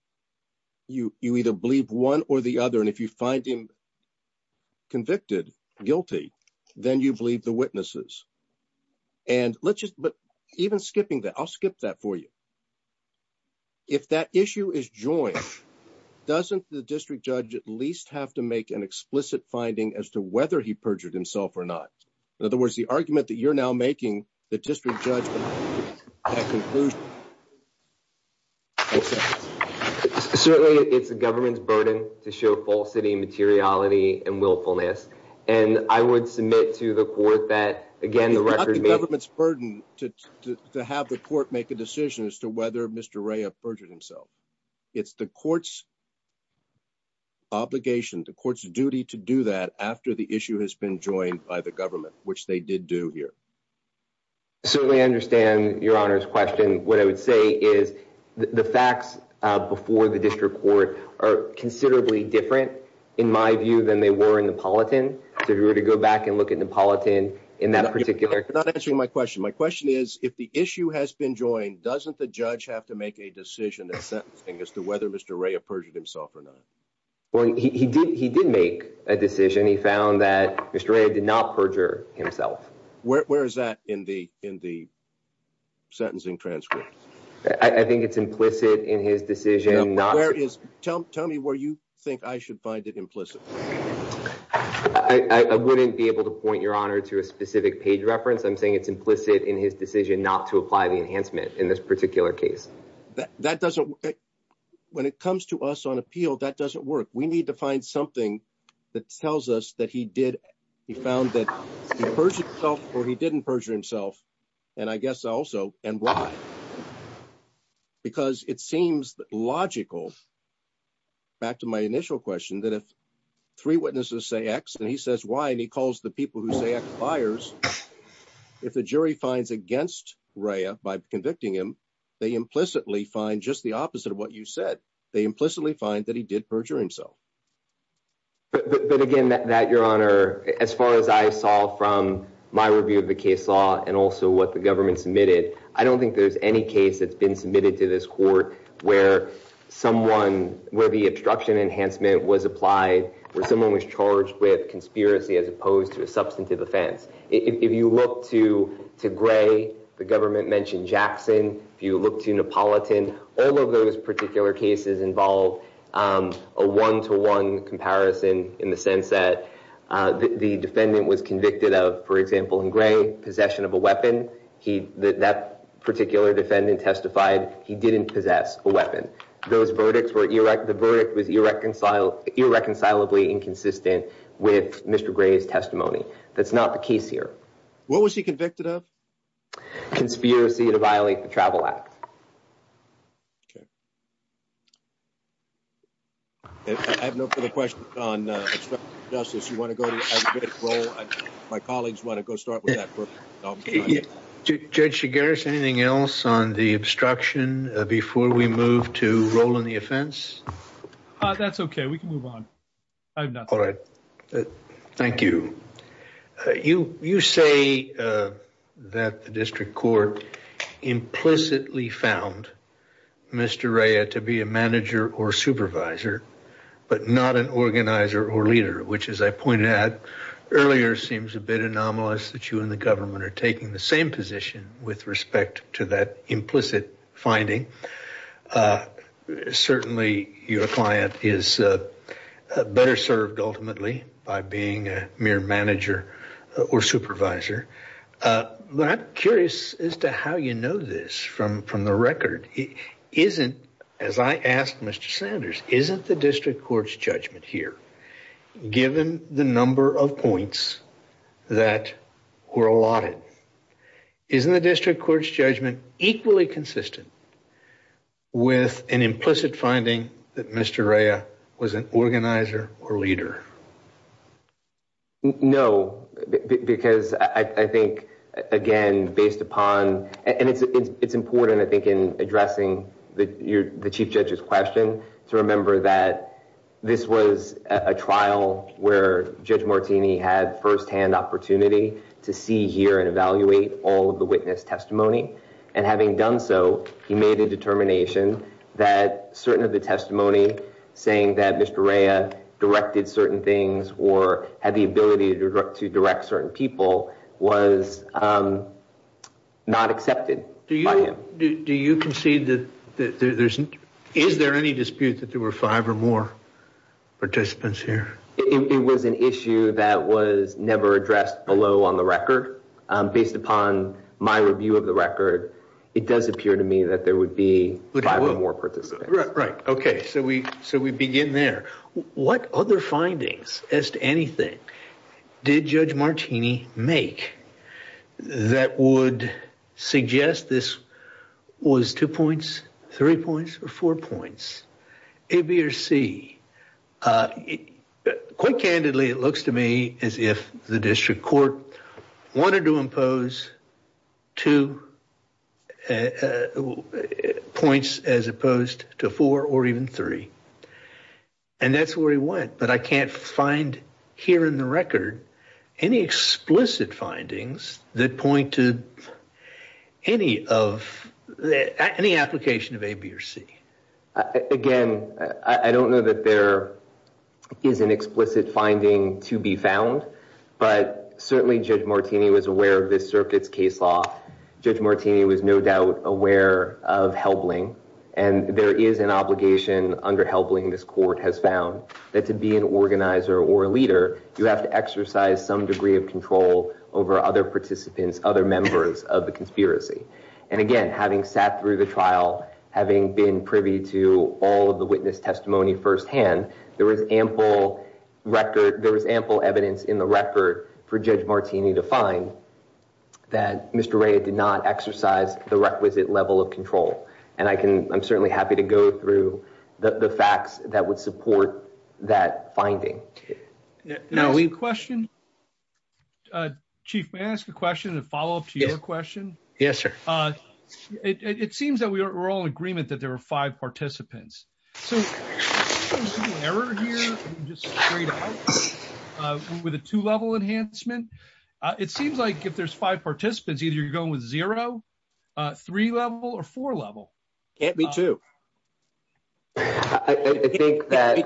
you either believe one or the other? If you find him convicted, guilty, then you believe the witnesses. And let's just, but even skipping that, I'll skip that for you. If that issue is joint, doesn't the district judge at least have to make an explicit finding as to whether he perjured himself or not? In other words, the argument that you're now making, the district judge Certainly it's the government's burden to show falsity, materiality, and willfulness. And I would submit to the court that, again, the record- It's not the government's burden to have the court make a decision as to whether Mr. Rea perjured himself. It's the court's obligation, the court's duty to do that after the issue has been joined by the government, which they did do here. I certainly understand Your Honor's question. What I would say is the facts before the district court are considerably different, in my view, than they were in Neapolitan. If we were to go back and look at Neapolitan in that particular- That's not answering my question. My question is, if the issue has been joined, doesn't the judge have to make a decision in sentencing as to whether Mr. Rea perjured himself or not? Well, he did make a decision. He found that Mr. Rea did not perjure himself. Where is that in the sentencing transcript? I think it's implicit in his decision not- Tell me where you think I should find it implicit. I wouldn't be able to point, Your Honor, to a specific page reference. I'm saying it's implicit in his decision not to apply the enhancement in this particular case. When it comes to us on appeal, that doesn't work. We need to find something that tells us that he found that he perjured himself or he didn't perjure himself, and I guess also, and why. Because it seems logical, back to my initial question, that if three witnesses say X and he says Y and he calls the people who say X liars, if the jury finds against Rea by convicting him, they implicitly find just the opposite of what you said. They implicitly find that he did perjure himself. But, again, Matt, Your Honor, as far as I saw from my review of the case law and also what the government submitted, I don't think there's any case that's been submitted to this court where someone, where the obstruction enhancement was applied, where someone was charged with conspiracy as opposed to a substantive offense. If you look to Gray, the government mentioned Jackson. If you look to Napolitan, all of those particular cases involve a one-to-one comparison in the sense that the defendant was convicted of, for example, in Gray, possession of a weapon. That particular defendant testified he didn't possess a weapon. Those verdicts were, the verdict was irreconcilably inconsistent with Mr. Gray's testimony. That's not the case here. What was he convicted of? Conspiracy to violate the travel act. I have no further questions on obstruction of justice. You want to go to roll? My colleagues want to go start with that. Judge Shigaris, anything else on the obstruction before we move to roll on the offense? That's okay. We can move on. I have nothing. All right. Thank you. You say that the district court implicitly found Mr. Ray to be a manager or supervisor, but not an organizer or leader, which as I pointed out earlier, seems a bit anomalous that you and the government are taking the same position with respect to that implicit finding. Certainly your client is better served ultimately by being a mere manager or supervisor, but I'm curious as to how you know this from the record. Isn't, as I asked Mr. Sanders, isn't the district court's judgment here, given the number of points that were allotted, isn't the district court's judgment equally consistent with an implicit finding that Mr. Ray was an organizer or leader? No, because I think, again, based upon, and it's important, I think, in addressing the chief judge's question to remember that this was a trial where Judge Martini had firsthand opportunity to see, hear, and evaluate all of the witness testimony, and having done so, he made a determination that certain of the testimony saying that Mr. Ray directed certain things or had the ability to direct certain people was not accepted by him. Do you concede that there's, is there any dispute that there were five or more participants here? It was an issue that was never addressed below on the record. Based upon my review of the record, it does appear to me that there would be five or more participants. Right, right. Okay, so we begin there. What other findings as to anything did Judge Martini make that would suggest this was two points, three points, or four points? A, B, or C, quite candidly, it looks to me as if the district court wanted to impose two points as opposed to four or even three, and that's where he went, but I can't find here in the record any explicit findings that point to any of, any application of A, B, or C. Again, I don't know that there is an explicit finding to be found, but certainly Judge Martini was aware of this circuit's case law. Judge Martini was no doubt aware of Helbling, and there is an obligation under Helbling this court has found that to be an organizer or leader, you have to exercise some degree of control over other participants, other members of the conspiracy, and again, having sat through the trial, having been privy to all of the witness testimony firsthand, there was ample record, there was ample evidence in the record for Judge Martini to find that Mr. Rea did not exercise the requisite level of control, and I can, I'm certainly happy to go through the facts that would support that finding. Now, we have a question. Chief, may I ask a question and follow up to your question? Yes, sir. It seems that we're all in agreement that there are five participants. With a two-level enhancement, it seems like if there's five participants, either you're going with zero, three-level, or four-level. Can't be two. I think that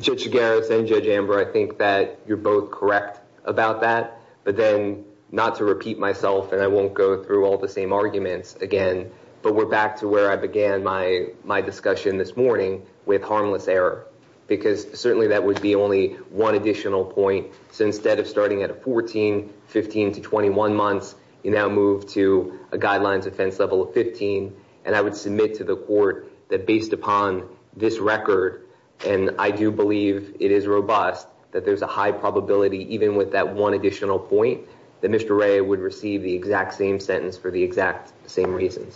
Judge Garris and Judge Amber, I think that you're both correct about that, but then not to repeat myself, and I won't go through all the same arguments again, but we're back to where I began my discussion this morning with harmless error, because certainly that would be only one additional point, so instead of starting at a 14, 15, to 21 months, you now move to a guidelines offense level of 15, and I would submit to the court that based upon this record, and I do believe it is robust, that there's a high probability, even with that one additional point, that Mr. Rea would receive the exact same sentence for the exact same reason.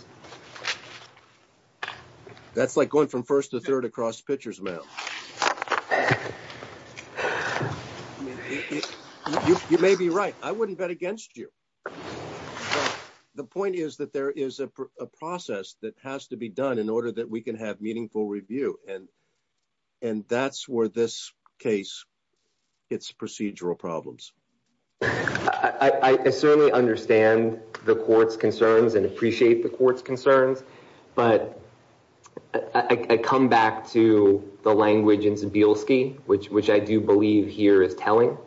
That's like going from first to third across pitchers, ma'am. You may be right. I wouldn't bet against you. The point is that there is a process that has to be done in order that we can have meaningful review, and that's where this case hits procedural problems. I certainly understand the court's concerns and appreciate the court's concern, but I come back to the language in Cebilski, which I do believe here is telling,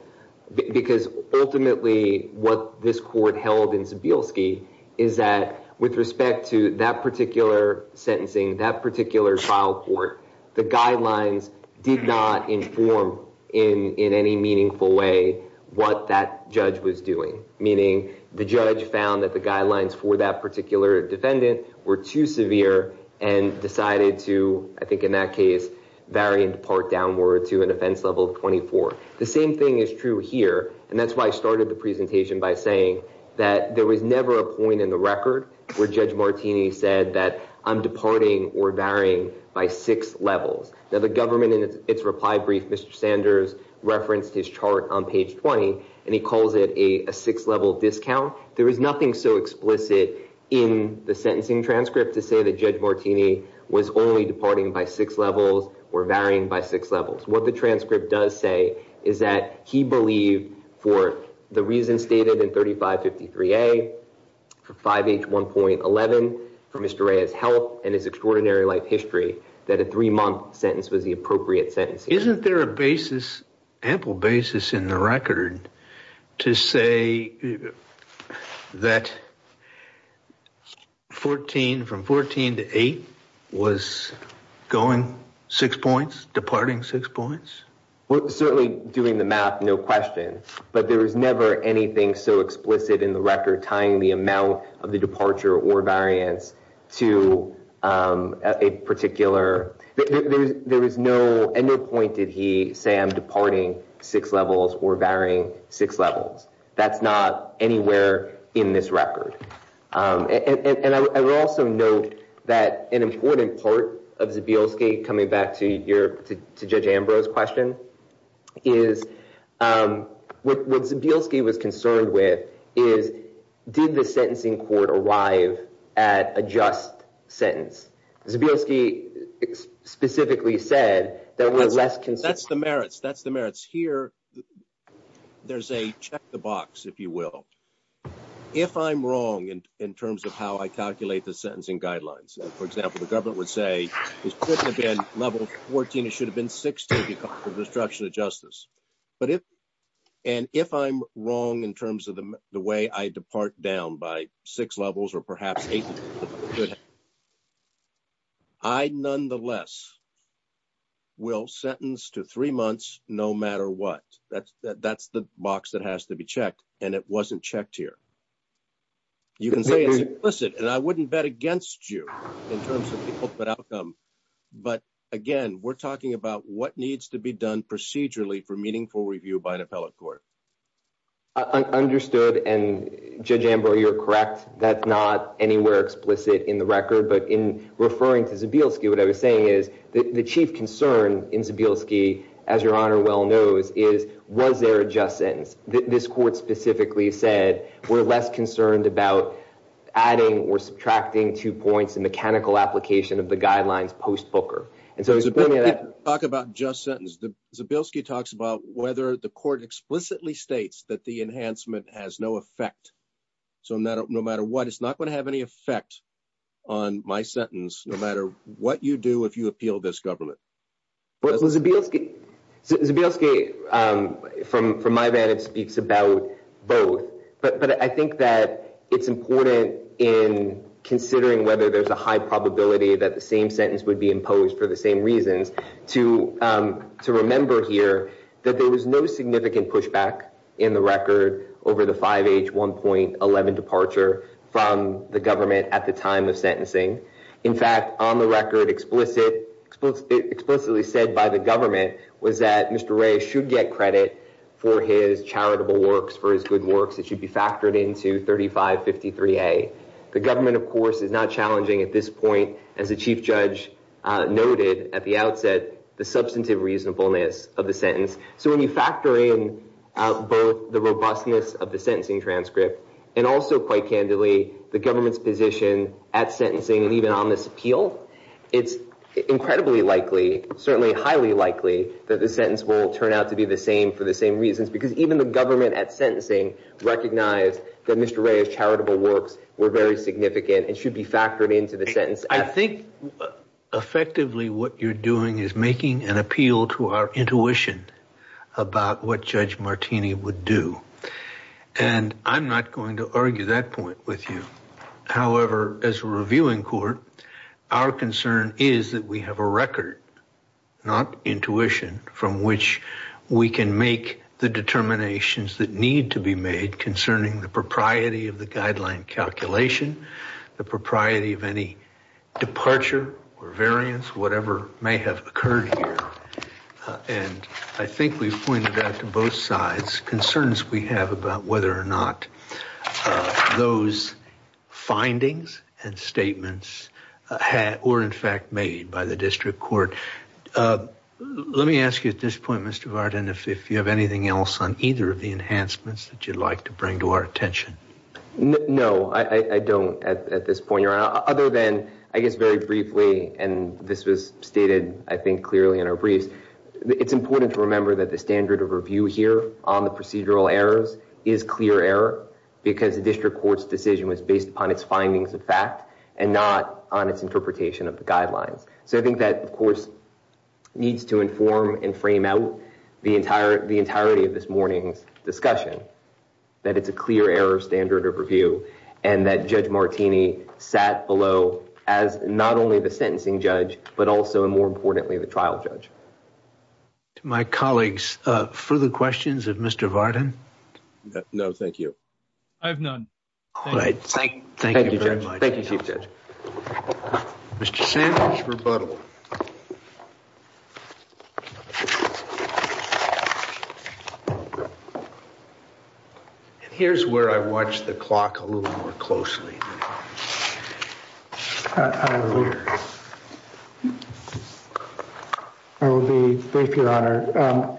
because ultimately what this court held in Cebilski is that with respect to that particular sentencing, that particular trial court, the guidelines did not inform in any meaningful way what that judge was doing, meaning the judge found that the guidelines for that particular defendant were too severe and decided to, I think in that case, vary and depart downward to an offense level of 24. The same thing is true here, and that's why I started the presentation by saying that there was never a point in the record where Judge Martini said that I'm departing or varying by six levels. Now, the government, in its reply brief, Mr. Sanders referenced his chart on page 20 and he calls it a six-level discount. There is nothing so explicit in the sentencing transcript to say that Judge Martini was only departing by six levels or varying by six levels. What the transcript does say is that he believed, for the reasons stated in 3553A, 5H1.11, for Mr. Ray's health and his extraordinary life history, that a three-month sentence was the appropriate sentence. Isn't there a basis, ample basis, in the record to say that 14, from 14 to 8, was going six points, departing six points? Certainly, doing the math, no question, but there was never anything so explicit in the record tying the amount of the departure or variance to a particular, there was no, at no point did he say I'm departing six levels or varying six levels. That's not anywhere in this record. And I would also note that an important part of Zabilski, coming back to Judge Ambrose's question, is, what Zabilski was concerned with is, did the sentencing court arrive at a just sentence? Zabilski specifically said there was less consent. That's the merits, that's the merits. Here, there's a check the box, if you will. If I'm wrong in terms of how I calculate the sentencing guidelines, for example, the government would say, this person again, level 14, it should have been restriction of justice. But if, and if I'm wrong in terms of the way I depart down by six levels or perhaps eight, I nonetheless will sentence to three months, no matter what. That's the box that has to be checked, and it wasn't checked here. You can say it's implicit, and I wouldn't bet against you in terms of the outcome. But again, we're talking about what needs to be done procedurally for meaningful review by an appellate court. I understood, and Judge Ambrose, you're correct, that's not anywhere explicit in the record. But in referring to Zabilski, what I was saying is the chief concern in Zabilski, as your honor well knows, is, was there a just sentence? This court specifically said, we're less concerned about adding or subtracting two points in mechanical application of the guidelines post-Booker. And so he's bringing that- Talk about just sentence. Zabilski talks about whether the court explicitly states that the enhancement has no effect. So no matter what, it's not going to have any effect on my sentence, no matter what you do, if you appeal this government. Well, Zabilski, from my vantage, speaks about both. But I think that it's important in considering whether there's a high probability that the same sentence would be imposed for the same reasons, to remember here that there was no significant pushback in the record over the 5H 1.11 from the government at the time of sentencing. In fact, on the record, explicitly said by the government was that Mr. Ray should get credit for his charitable works, for his good works, it should be factored into 3553A. The government, of course, is not challenging at this point, as the chief judge noted at the outset, the substantive reasonableness of the sentence. So when you factor in both the robustness of the sentencing transcript, and also quite candidly, the government's position at sentencing, even on this appeal, it's incredibly likely, certainly highly likely, that the sentence will turn out to be the same for the same reasons. Because even the government at sentencing recognized that Mr. Ray's charitable works were very significant and should be factored into the sentence. I think effectively what you're doing is making an appeal to our intuition about what Judge Martini would do. And I'm not going to argue that point with you. However, as a reviewing court, our concern is that we have a record, not intuition, from which we can make the determinations that need to be made concerning the propriety of the guideline calculation, the propriety of any departure or variance, whatever may have occurred here. And I think we've pointed out to both sides concerns we have about whether or not those findings and statements were in fact made by the district court. Let me ask you at this point, Mr. Varden, if you have anything else on either of the enhancements that you'd like to bring to our attention. I guess very briefly, and this was stated I think clearly in our brief, it's important to remember that the standard of review here on the procedural errors is clear error because the district court's decision was based upon its findings of fact and not on its interpretation of the guideline. So I think that, of course, needs to inform and frame out the entirety of this morning's discussion, that it's a clear error standard of review and that Judge Martini sat below as not only the sentencing judge but also, more importantly, the trial judge. To my colleagues, further questions of Mr. Varden? No, thank you. I have none. Thank you very much. Thank you, Chief Judge. Mr. Sandler's rebuttal. Here's where I watch the clock a little more closely. I will be very pure, Honor.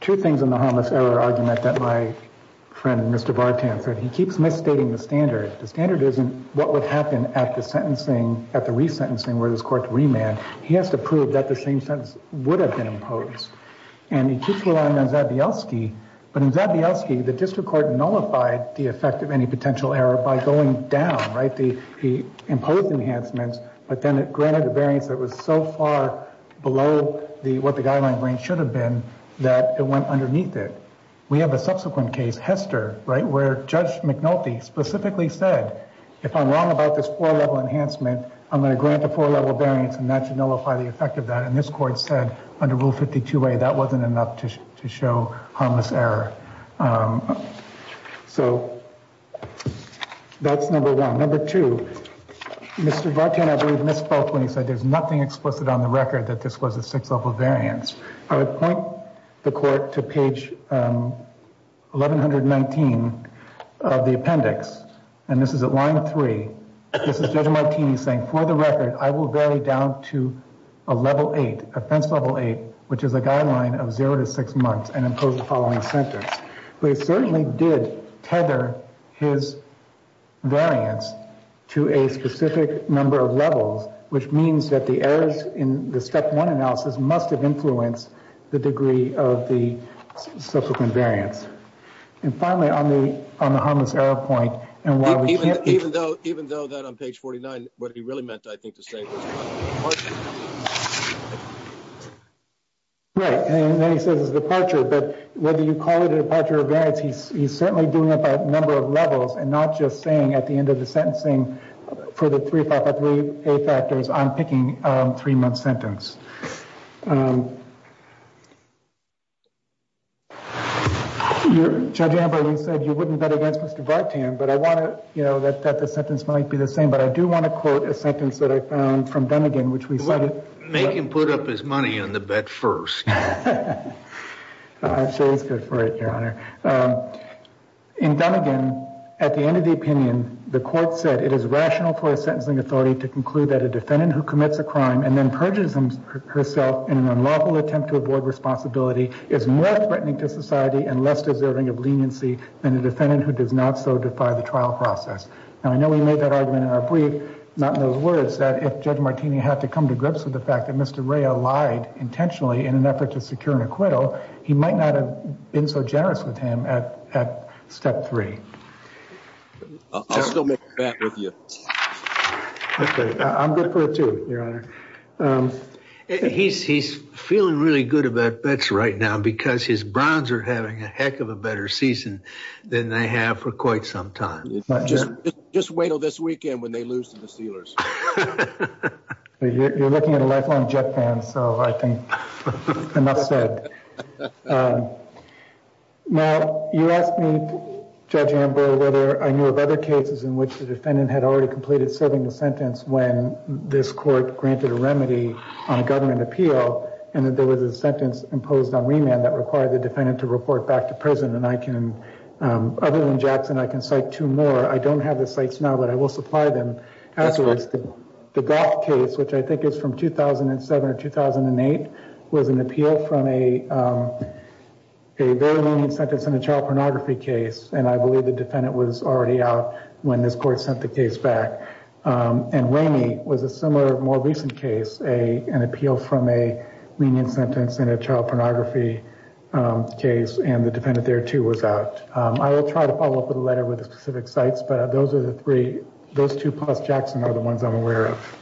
Two things on the harmless error argument that my friend, Mr. Bartrand, said. He keeps misstating the standard. The standard isn't what would happen at the sentencing, at the resentencing where this court's remand. He has to prove that the same sentence would have been imposed. And he keeps relying on Zabioski, but in Zabioski, the district court nullified the effect of any potential error by going down, right, the imposed enhancements, but then it granted a variance that was so far below what the guideline range should have been that it went underneath it. We have a subsequent case, Hester, right, where Judge McNulty specifically said, if I'm wrong about this four-level enhancement, I'm going to grant a four-level variance and that should nullify the effect of that. And this court said under Rule 52A, that wasn't enough to show harmless error. So that's number one. Number two, Mr. Bartrand, I believe, missed both when he said there's nothing explicit on the of the appendix. And this is at line three. This is Judge McNulty saying, for the record, I will vary down to a level eight, offense level eight, which is a guideline of zero to six months and impose the following sentence. But it certainly did tether his variance to a specific number of levels, which means that the errors in the step one analysis must have influenced the degree of the harmless error point. Even though that on page 49, what he really meant, I think, the same question. Right. And then he said it was a departure, but whether you call it a departure of variance, he's certainly doing it at a number of levels and not just saying at the end of the sentencing, for the 3583A factors, I'm picking a three-month sentence. Judge Amber, you said you wouldn't bet against Mr. Bartrand, but I want to, you know, that the sentence might be the same, but I do want to quote a sentence that I found from Dunnegan, which we thought... Make him put up his money on the bet first. I chose this for it, Your Honor. In Dunnegan, at the end of the opinion, the court said it is rational for a sentencing authority to conclude that a defendant who commits a crime and then herself in an unlawful attempt to avoid responsibility is more threatening to society and less deserving of leniency than a defendant who does not so defy the trial process. And I know we made that argument in our brief, not in those words, that if Judge Martini had to come to grips with the fact that Mr. Ray lied intentionally in an effort to secure an acquittal, he might not have been so generous with him at step three. I'll still make it back with you. Okay, I'm good for it too, Your Honor. He's feeling really good about bets right now because his Browns are having a heck of a better season than they have for quite some time. Just wait till this weekend when they lose to the Steelers. You're looking at a lifelong Jets fan, so I think enough said. Now, you asked me, whether I knew of other cases in which the defendant had already completed serving the sentence when this court granted a remedy on government appeal, and that there was a sentence imposed on remand that required the defendant to report back to prison. And I can, other than Jackson, I can cite two more. I don't have the sites now, but I will supply them. Absolutely. The Black case, which I think is from 2007 or 2008, was an appeal from a lenient sentence in a child pornography case, and I believe the defendant was already out when this court sent the case back. And Ramey was a similar, more recent case, an appeal from a lenient sentence in a child pornography case, and the defendant there too was out. I will try to follow up with a letter with the specific sites, but those are the three, those two plus Jackson are the ones I'm aware of.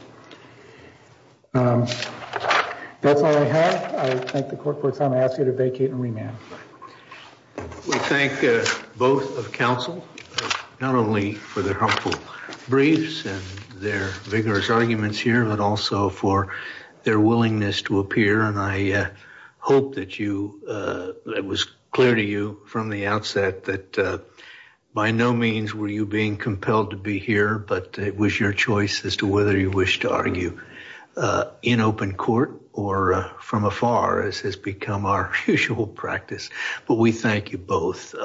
That's all I have. I thank the court for time. I ask you to vacate and remand. We thank both of counsel, not only for their helpful briefs and their vigorous arguments here, but also for their willingness to appear. And I hope that it was clear to you from the outset that by no means were you being compelled to be here, but it was your choice as whether you wish to argue in open court or from afar, as has become our usual practice. But we thank you both.